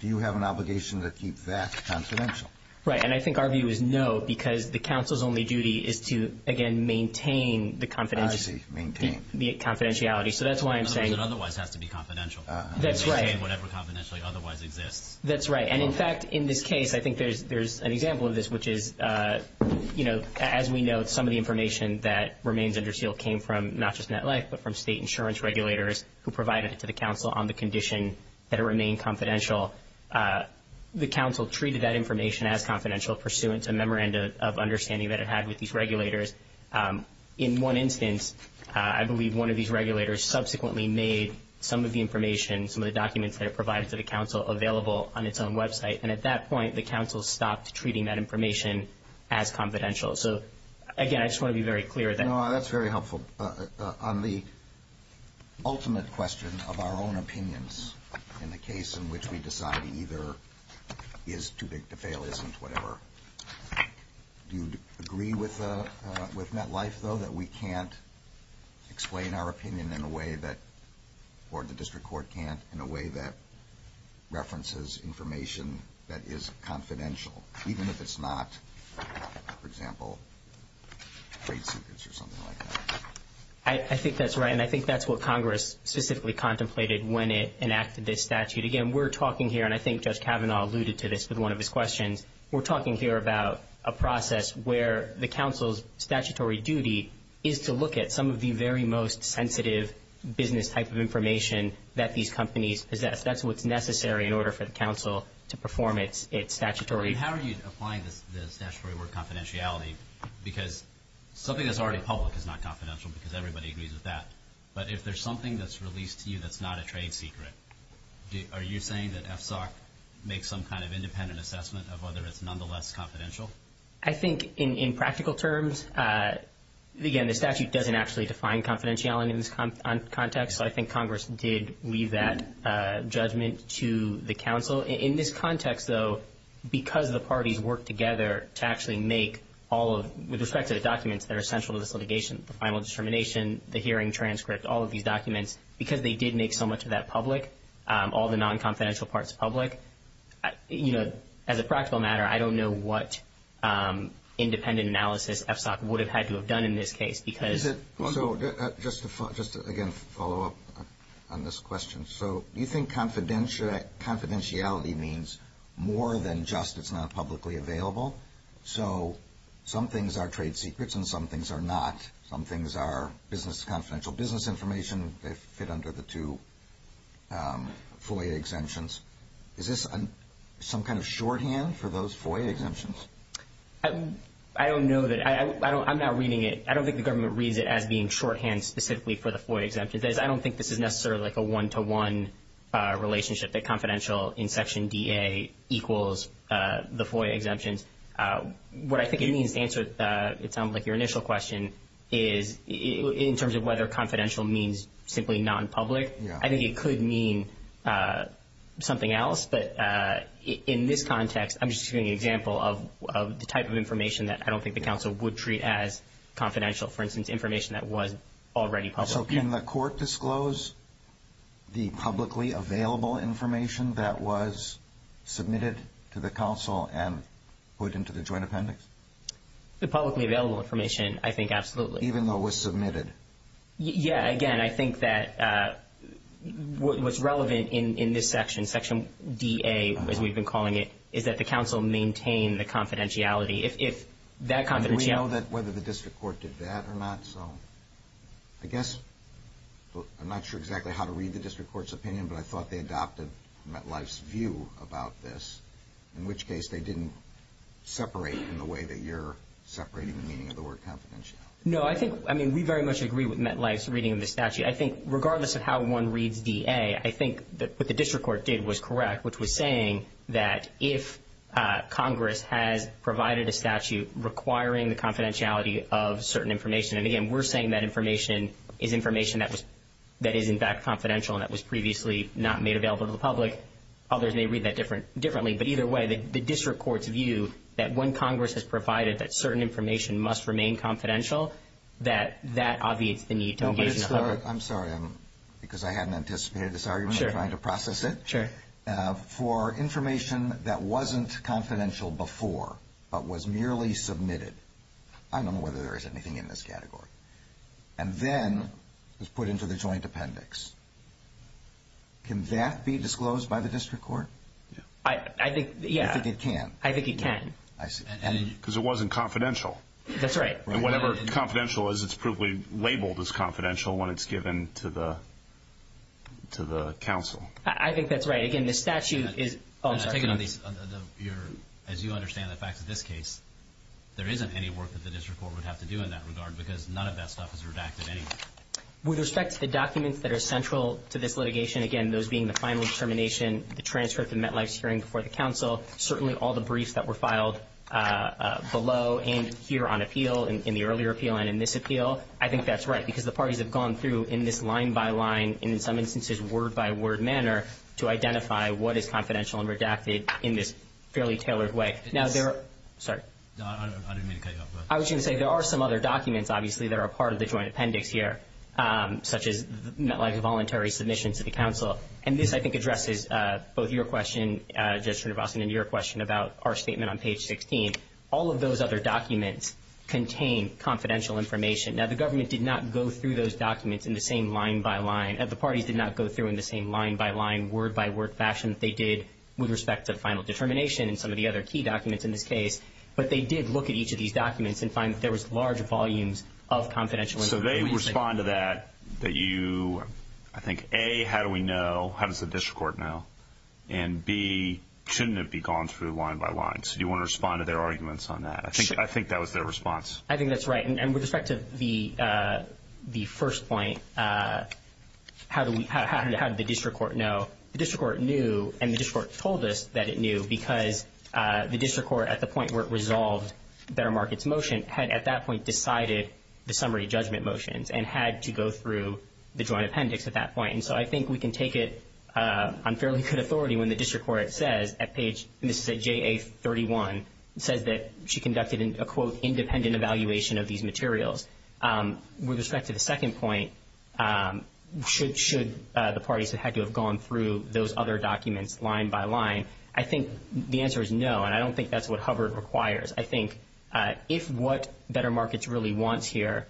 do you have an obligation to keep that confidential? Right, and I think our view is no, because the council's only duty is to, again, maintain the confidentiality. I see, maintain. So that's why I'm saying- It doesn't otherwise have to be confidential. That's right. Whatever confidentiality otherwise exists. That's right. And, in fact, in this case, I think there's an example of this, which is, you know, as we know, some of the information that remains under seal came from not just NetLife but from state insurance regulators who provided it to the council on the condition that it remain confidential. The council treated that information as confidential pursuant to memoranda of understanding that it had with these regulators. In one instance, I believe one of these regulators subsequently made some of the information, some of the documents that it provides to the council available on its own website, and at that point the council stopped treating that information as confidential. So, again, I just want to be very clear that- No, that's very helpful. On the ultimate question of our own opinions in the case in which we decide either is too big to fail, isn't whatever, do you agree with NetLife, though, that we can't explain our opinion in a way that- or the district court can't in a way that references information that is confidential, even if it's not, for example, trade secrets or something like that? I think that's right, and I think that's what Congress specifically contemplated when it enacted this statute. Again, we're talking here, and I think Judge Kavanaugh alluded to this with one of his questions. We're talking here about a process where the council's statutory duty is to look at some of the very most sensitive business type of information that these companies possess. That's what's necessary in order for the council to perform its statutory- How are you applying the statutory word confidentiality? Because something that's already public is not confidential because everybody agrees with that, but if there's something that's released to you that's not a trade secret, are you saying that FSOC makes some kind of independent assessment of whether it's nonetheless confidential? I think in practical terms, again, the statute doesn't actually define confidentiality in this context, but I think Congress did leave that judgment to the council. In this context, though, because the parties worked together to actually make all of- with respect to the documents that are essential to this litigation, the final determination, the hearing transcript, all of these documents, because they did make so much of that public, all the non-confidential parts public, as a practical matter, I don't know what independent analysis FSOC would have had to have done in this case because- Just to, again, follow up on this question. Do you think confidentiality means more than just it's not publicly available? Some things are trade secrets and some things are not. Some things are confidential business information that fit under the two FOIA exemptions. Is this some kind of shorthand for those FOIA exemptions? I don't know that. I'm not reading it. I don't think the government reads it as being shorthand specifically for the FOIA exemptions. I don't think this is necessarily like a one-to-one relationship, that confidential in Section DA equals the FOIA exemptions. What I think it means to answer, it sounds like your initial question, is in terms of whether confidential means simply non-public. I think it could mean something else, but in this context, I'm just giving you an example of the type of information that I don't think the council would treat as confidential, for instance, information that was already public. Can the court disclose the publicly available information that was submitted to the council and put into the joint appendix? The publicly available information, I think absolutely. Even though it was submitted? Yes. Again, I think that what's relevant in this section, Section DA, as we've been calling it, is that the council maintain the confidentiality. Do we know whether the district court did that or not? I guess I'm not sure exactly how to read the district court's opinion, but I thought they adopted MetLife's view about this, in which case they didn't separate in the way that you're separating the meaning of the word confidential. No, I think we very much agree with MetLife's reading of the statute. I think regardless of how one reads DA, I think what the district court did was correct, which was saying that if Congress has provided a statute requiring the confidentiality of certain information, and, again, we're saying that information is information that is, in fact, confidential and that was previously not made available to the public, others may read that differently. But either way, the district court's view that when Congress has provided that certain information must remain confidential, that that obviates the need to engage in the public. I'm sorry, because I hadn't anticipated this argument. I'm trying to process it. For information that wasn't confidential before but was merely submitted, I don't know whether there is anything in this category, and then is put into the joint appendix, can that be disclosed by the district court? I think it can. I think it can. Because it wasn't confidential. That's right. And whatever confidential is, it's probably labeled as confidential when it's given to the council. I think that's right. Again, the statute is false. As you understand the fact of this case, there isn't any work that the district court would have to do in that regard because none of that stuff is redacted anyway. With respect to the documents that are central to this litigation, again, those being the final determination, the transcript and MetLife's hearing before the council, certainly all the briefs that were filed below and here on appeal, in the earlier appeal and in this appeal, I think that's right. Because the parties have gone through in this line-by-line, in some instances word-by-word manner, to identify what is confidential and redacted in this fairly tailored way. Now, there are some other documents, obviously, that are part of the joint appendix here, such as MetLife's voluntary submission to the council. And this, I think, addresses both your question, Judge Srinivasan, and your question about our statement on page 16. I think all of those other documents contain confidential information. Now, the government did not go through those documents in the same line-by-line. The parties did not go through in the same line-by-line, word-by-word fashion that they did with respect to the final determination and some of the other key documents in this case. But they did look at each of these documents and find that there was large volumes of confidential information. So they respond to that that you, I think, A, how do we know? How does the district court know? And B, shouldn't it be gone through line-by-line? So do you want to respond to their arguments on that? I think that was their response. I think that's right. And with respect to the first point, how did the district court know? The district court knew, and the district court told us that it knew because the district court, at the point where it resolved Better Markets motion, had at that point decided the summary judgment motion and had to go through the joint appendix at that point. And so I think we can take it on fairly good authority when the district court says, at page, this is at JA31, said that she conducted a, quote, independent evaluation of these materials. With respect to the second point, should the parties have had to have gone through those other documents line-by-line? I think the answer is no, and I don't think that's what HUBR requires. I think if what Better Markets really wants here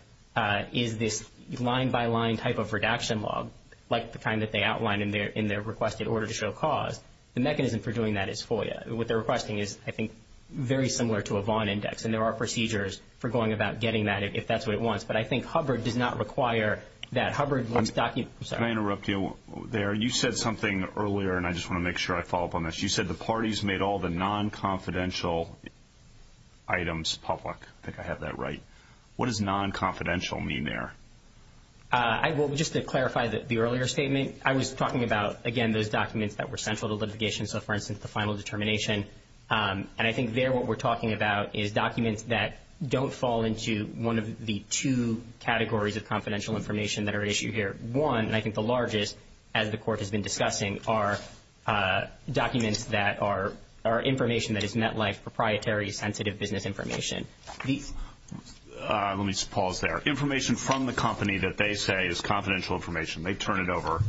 is this line-by-line type of redaction log, like the time that they outlined in their request in order to show cause, the mechanism for doing that is FOIA. What they're requesting is, I think, very similar to a Vaughn index, and there are procedures for going about getting that if that's what it wants. But I think HUBR did not require that. Can I interrupt you there? You said something earlier, and I just want to make sure I follow up on this. You said the parties made all the nonconfidential items public. I think I have that right. What does nonconfidential mean there? Just to clarify the earlier statement, I was talking about, again, those documents that were central to litigation, so, for instance, the final determination. And I think there what we're talking about is documents that don't fall into one of the two categories of confidential information that are issued here. One, and I think the largest, as the Court has been discussing, are documents that are information that is met like proprietary sensitive business information. Let me just pause there. Information from the company that they say is confidential information. They turn it over.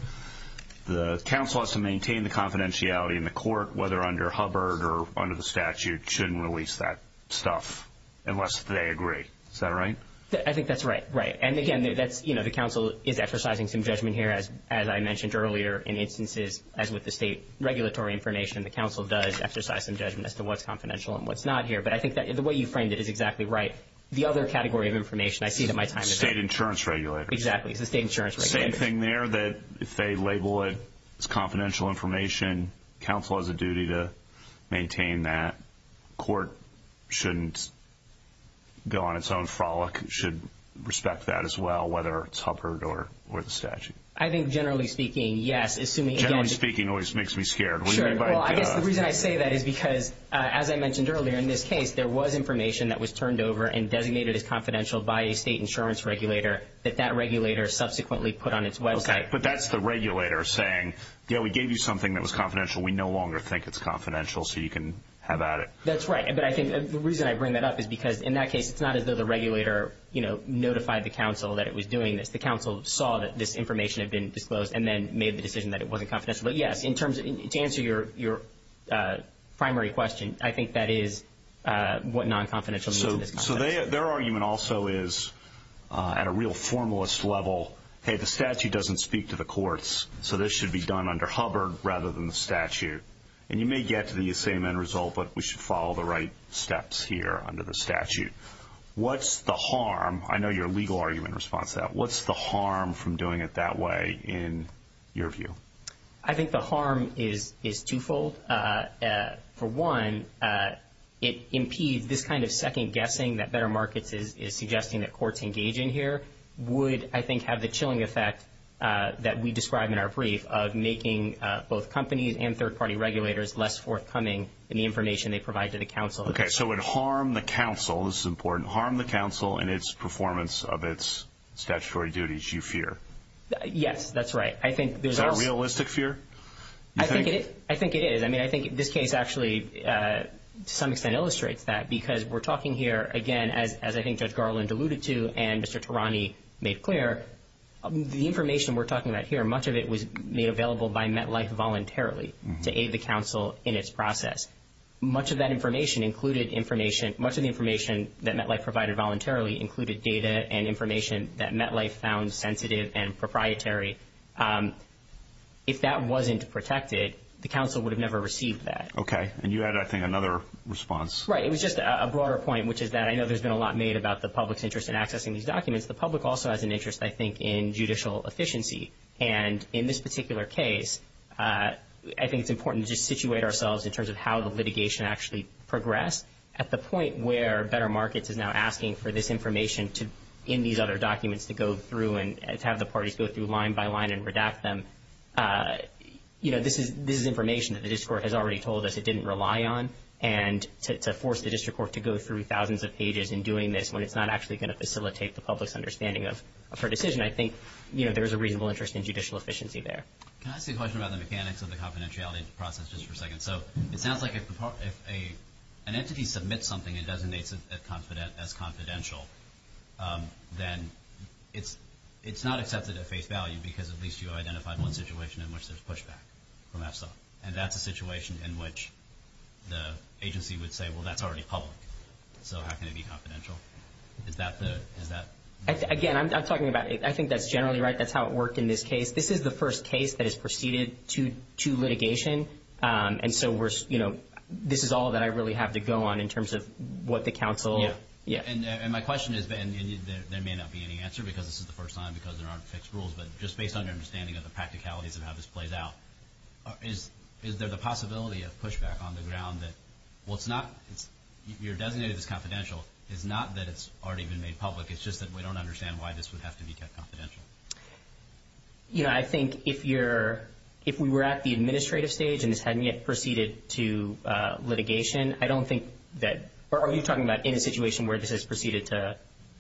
The counsel has to maintain the confidentiality in the Court, whether under HUBR or under the statute, shouldn't release that stuff unless they agree. Is that right? I think that's right. Right. And, again, the counsel is exercising some judgment here, as I mentioned earlier, in instances, as with the state regulatory information, the counsel does exercise some judgment as to what's confidential and what's not here. But I think the way you framed it is exactly right. The other category of information I see that my time is up. State insurance regulators. Exactly. It's the state insurance regulators. The same thing there, that if they label it as confidential information, counsel has a duty to maintain that. The Court shouldn't go on its own frolic. It should respect that as well, whether it's HUBR or the statute. I think, generally speaking, yes. Generally speaking always makes me scared. Sure. The reason I say that is because, as I mentioned earlier, in this case, there was information that was turned over and designated as confidential by a state insurance regulator that that regulator subsequently put on its website. Okay. But that's the regulator saying, you know, we gave you something that was confidential. We no longer think it's confidential, so you can have at it. That's right. But I think the reason I bring that up is because, in that case, it's not as though the regulator, you know, notified the counsel that it was doing this. The counsel saw that this information had been disclosed and then made the decision that it wasn't confidential. But, yes, to answer your primary question, I think that is what non-confidential means. So their argument also is, at a real formalist level, hey, the statute doesn't speak to the courts, so this should be done under HUBR rather than the statute. And you may get to the same end result, but we should follow the right steps here under the statute. What's the harm? I know your legal argument responds to that. What's the harm from doing it that way in your view? I think the harm is twofold. For one, it impedes this kind of second guessing that Better Markets is suggesting that courts engage in here would, I think, have the chilling effect that we described in our brief of making both companies and third-party regulators less forthcoming in the information they provide to the counsel. Okay, so it harmed the counsel, this is important, harmed the counsel in its performance of its statutory duties, you fear. Yes, that's right. Is that a realistic fear? I think it is. I mean, I think this case actually to some extent illustrates that because we're talking here, again, as I think Judge Garland alluded to and Mr. Tarani made clear, the information we're talking about here, much of it was made available by MetLife voluntarily to aid the counsel in its process. Much of that information included information, much of the information that MetLife provided voluntarily included data and information that MetLife found sensitive and proprietary. If that wasn't protected, the counsel would have never received that. Okay, and you had, I think, another response. Right, it was just a broader point, which is that I know there's been a lot made about the public's interest in accessing these documents. The public also has an interest, I think, in judicial efficiency. And in this particular case, I think it's important to situate ourselves in terms of how the litigation actually progressed at the point where Better Markets is now asking for this information in these other documents to go through and have the parties go through line by line and redact them. You know, this is information that the district court has already told us it didn't rely on and to force the district court to go through thousands of pages in doing this when it's not actually going to facilitate the public's understanding of her decision, I think, you know, there's a reasonable interest in judicial efficiency there. Can I ask you a question about the mechanics of the confidentiality process just for a second? So it sounds like if an entity submits something and designates it as confidential, then it's not accepted at face value because at least you identified one situation in which there's pushback from that stuff. And that's a situation in which the agency would say, well, that's already public. So how can it be confidential? Is that the... Again, I'm talking about, I think that's generally right. That's how it worked in this case. This is the first case that has proceeded to litigation. And so, you know, this is all that I really have to go on in terms of what the counsel... Yeah. And my question is, and there may not be any answer because this is the first time because there aren't fixed rules, but just based on your understanding of the practicalities of how this plays out, is there the possibility of pushback on the ground that, well, it's not... You're designating this confidential. It's not that it's already been made public. It's just that we don't understand why this would have to be kept confidential. You know, I think if you're... If we were at the administrative stage and this hadn't yet proceeded to litigation, I don't think that... Are we talking about in a situation where this has proceeded to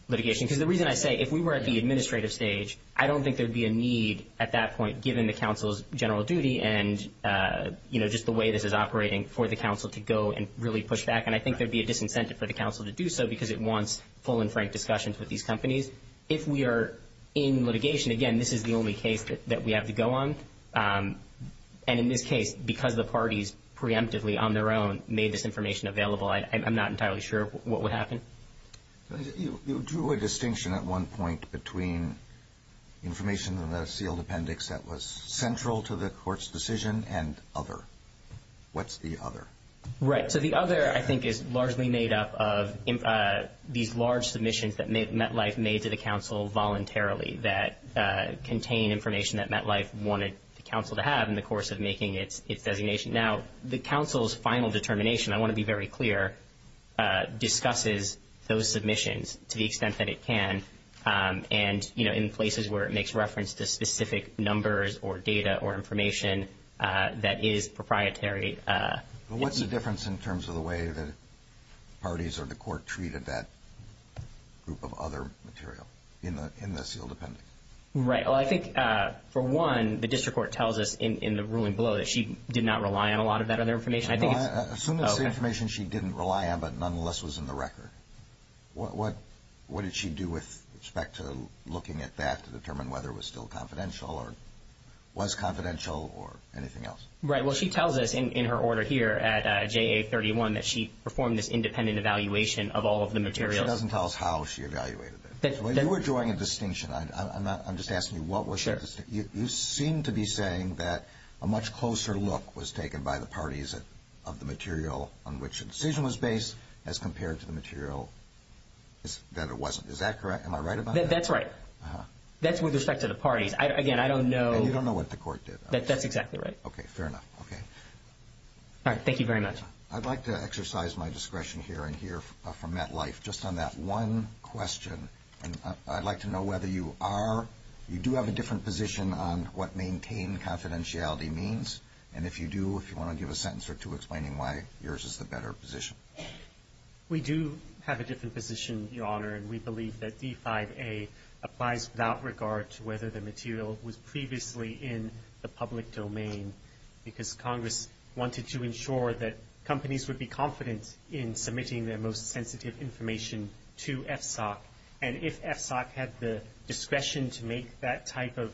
litigation? Because the reason I say if we were at the administrative stage, I don't think there'd be a need at that point given the counsel's general duty and, you know, just the way this is operating for the counsel to go and really push back. And I think there'd be a disincentive for the counsel to do so because it wants full and frank discussions with these companies. If we are in litigation, again, this is the only case that we have to go on. And in this case, because the parties preemptively on their own made this information available, I'm not entirely sure what would happen. You drew a distinction at one point between information in the sealed appendix that was central to the court's decision and other. What's the other? Right. So the other, I think, is largely made up of these large submissions that MetLife made to the counsel voluntarily that contain information that MetLife wanted the counsel to have in the course of making its designation. Now, the counsel's final determination, I want to be very clear, discusses those submissions to the extent that it can and, you know, in places where it makes reference to specific numbers or data or information that is proprietary. What's the difference in terms of the way the parties or the court treated that group of other material in the sealed appendix? Right. Well, I think, for one, the district court tells us in the ruling below that she did not rely on a lot of that other information. Well, I assume that's information she didn't rely on but nonetheless was in the record. What did she do with respect to looking at that to determine whether it was still confidential or was confidential or anything else? Right. Well, she tells us in her order here at JA-31 that she performed this independent evaluation of all of the material. It doesn't tell us how she evaluated it. You were drawing a distinction. I'm just asking you what was the distinction. You seem to be saying that a much closer look was taken by the parties of the material on which the decision was based as compared to the material that it wasn't. Is that correct? Am I right about that? That's right. That's with respect to the parties. Again, I don't know. You don't know what the court did. That's exactly right. Okay. Fair enough. Okay. All right. Thank you very much. I'd like to exercise my discretion here and here from MetLife just on that one question. I'd like to know whether you do have a different position on what maintain confidentiality means and if you do, if you want to give a sentence or two explaining why yours is the better position. We do have a different position, Your Honor, and we believe that D5A applies without regard to whether the material was previously in the public domain because Congress wanted to ensure that companies would be confident in submitting their most sensitive information to FSOC. And if FSOC had the discretion to make that type of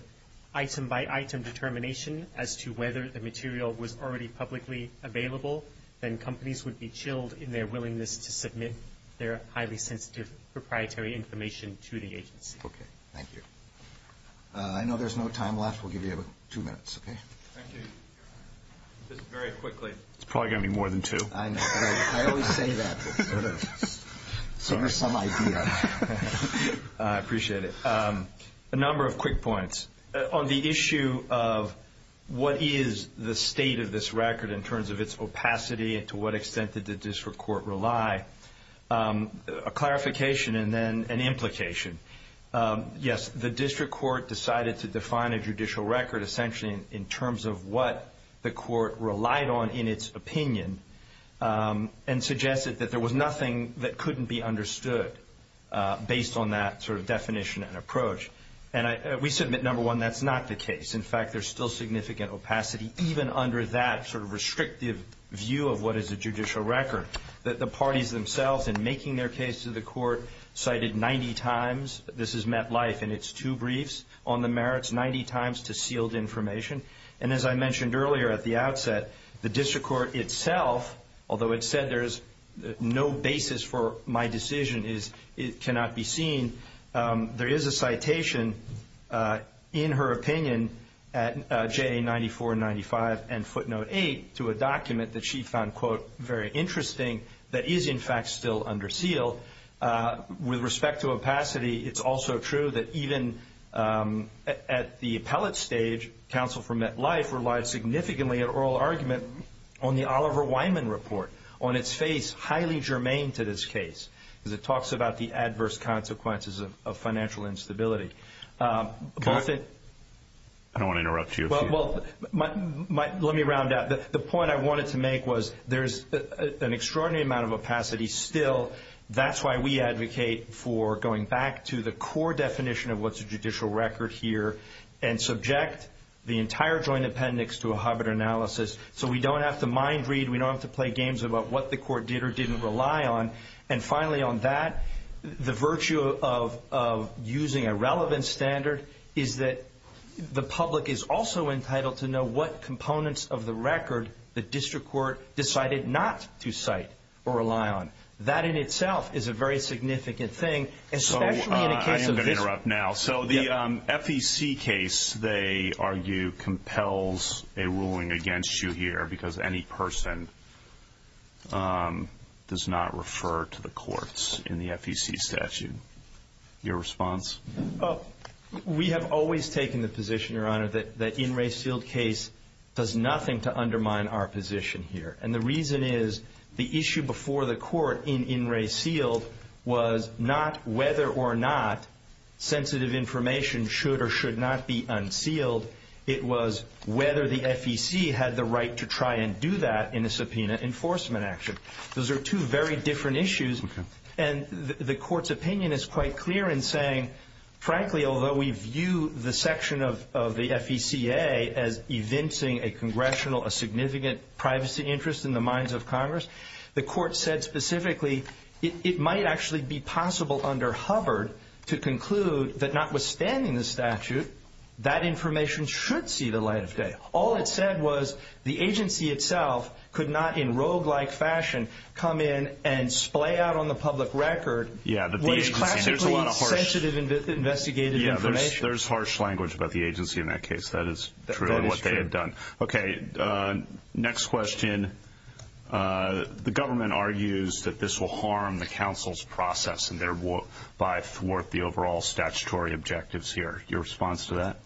item-by-item determination as to whether the material was already publicly available, then companies would be chilled in their willingness to submit their highly sensitive proprietary information to the agency. Okay. Thank you. I know there's no time left. We'll give you two minutes, okay? Thank you. Just very quickly. It's probably going to be more than two. I know. I always say that. So there's some idea. I appreciate it. A number of quick points. On the issue of what is the state of this record in terms of its opacity and to what extent did the district court rely, a clarification and then an implication. Yes, the district court decided to define a judicial record essentially in terms of what the court relied on in its opinion and suggested that there was nothing that couldn't be understood based on that sort of definition and approach. And we submit, number one, that's not the case. In fact, there's still significant opacity even under that sort of restrictive view of what is a judicial record. The parties themselves in making their case to the court cited 90 times, this has met life in its two briefs, on the merits 90 times to sealed information. And as I mentioned earlier at the outset, the district court itself, although it said there's no basis for my decision, it cannot be seen, there is a citation in her opinion at J94-95 and footnote 8 to a document that she found, quote, very interesting that is, in fact, still under seal. With respect to opacity, it's also true that even at the appellate stage, counsel for met life relied significantly on oral argument on the Oliver Wyman report on its face, highly germane to this case because it talks about the adverse consequences of financial instability. I don't want to interrupt you. Well, let me round out. The point I wanted to make was there's an extraordinary amount of opacity still. That's why we advocate for going back to the core definition of what's a judicial record here and subject the entire joint appendix to a Hobart analysis so we don't have to mind read, we don't have to play games about what the court did or didn't rely on. And finally on that, the virtue of using a relevant standard is that the public is also entitled to know what components of the record the district court decided not to cite or rely on. That in itself is a very significant thing. So I am going to interrupt now. So the FEC case, they argue, compels a ruling against you here because any person does not refer to the courts in the FEC statute. Your response? We have always taken the position, Your Honor, that the In Re Sealed case does nothing to undermine our position here. And the reason is the issue before the court in In Re Sealed was not whether or not sensitive information should or should not be unsealed. It was whether the FEC had the right to try and do that in a subpoena enforcement action. Those are two very different issues. And the court's opinion is quite clear in saying, frankly, although we view the section of the FECA as evincing a congressional, a significant privacy interest in the minds of Congress, the court said specifically it might actually be possible under Hubbard to conclude that notwithstanding the statute, that information should see the light of day. All it said was the agency itself could not in roguelike fashion come in and splay out on the public record what is classically sensitive investigative information. There's harsh language about the agency in that case. That is true of what they had done. Okay, next question. The government argues that this will harm the counsel's process and thereby thwart the overall statutory objectives here. Your response to that?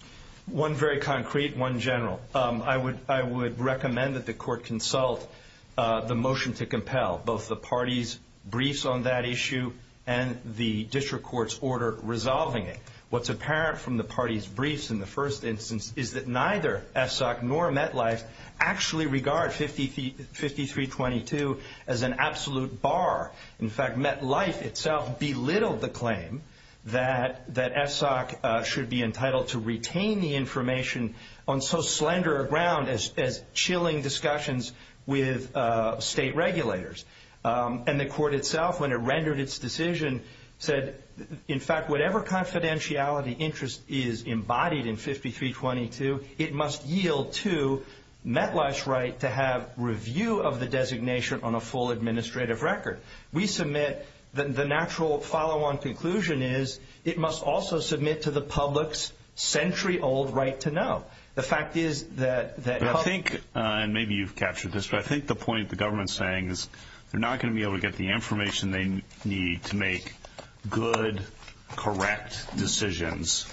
One very concrete, one general. I would recommend that the court consult the motion to compel both the parties' briefs on that issue and the district court's order resolving it. What's apparent from the parties' briefs in the first instance is that neither FSOC nor MetLife actually regard 5322 as an absolute bar. In fact, MetLife itself belittled the claim that FSOC should be entitled to retain the information on so slender a ground as chilling discussions with state regulators. And the court itself, when it rendered its decision, said, in fact, whatever confidentiality interest is embodied in 5322, it must yield to MetLife's right to have review of the designation on a full administrative record. We submit the natural follow-on conclusion is it must also submit to the public's century-old right to know. Maybe you've captured this, but I think the point the government is saying is they're not going to be able to get the information they need to make good, correct decisions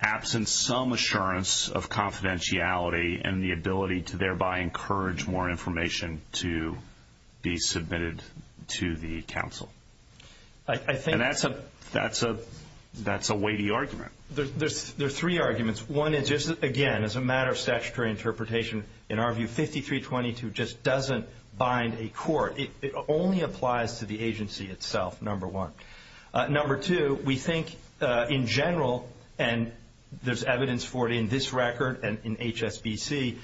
absent some assurance of confidentiality and the ability to thereby encourage more information to be submitted to the counsel. And that's a weighty argument. There are three arguments. One is, again, as a matter of statutory interpretation, in our view, 5322 just doesn't bind a court. It only applies to the agency itself, number one. Number two, we think in general, and there's evidence for it in this record and in HSBC,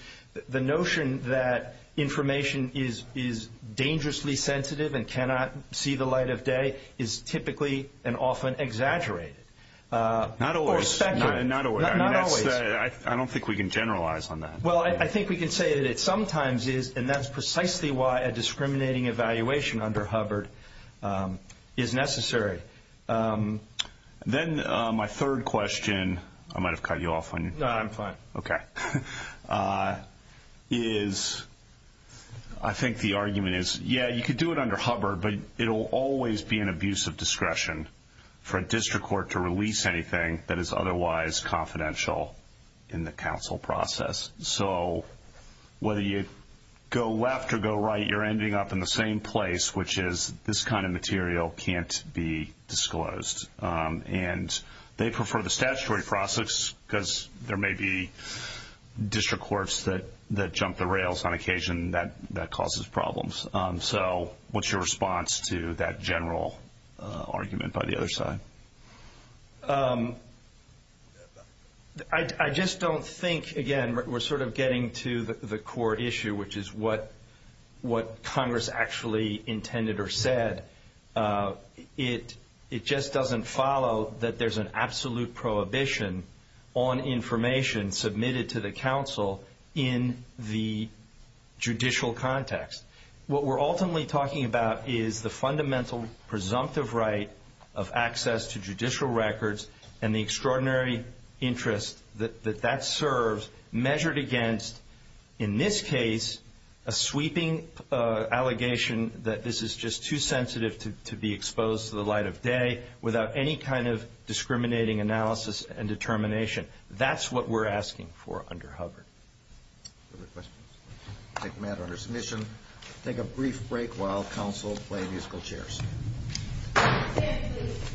the notion that information is dangerously sensitive and cannot see the light of day is typically and often exaggerated. Not always. I don't think we can generalize on that. Well, I think we can say that it sometimes is, and that's precisely why a discriminating evaluation under Hubbard is necessary. Then my third question, I might have cut you off on your time. No, I'm fine. Okay. I think the argument is, yeah, you could do it under Hubbard, but it will always be an abuse of discretion for a district court to release anything that is otherwise confidential in the counsel process. So whether you go left or go right, you're ending up in the same place, which is this kind of material can't be disclosed. They prefer the statutory process because there may be district courts that jump the rails on occasion that causes problems. So what's your response to that general argument by the other side? I just don't think, again, we're sort of getting to the core issue, which is what Congress actually intended or said. It just doesn't follow that there's an absolute prohibition on information submitted to the counsel in the judicial context. What we're ultimately talking about is the fundamental presumptive right of access to judicial records and the extraordinary interest that that serves measured against, in this case, a sweeping allegation that this is just too sensitive to be exposed to the light of day without any kind of discriminating analysis and determination. That's what we're asking for under Hubbard. Other questions? I'll take them out of our submission. We'll take a brief break while counsel is playing musical chairs.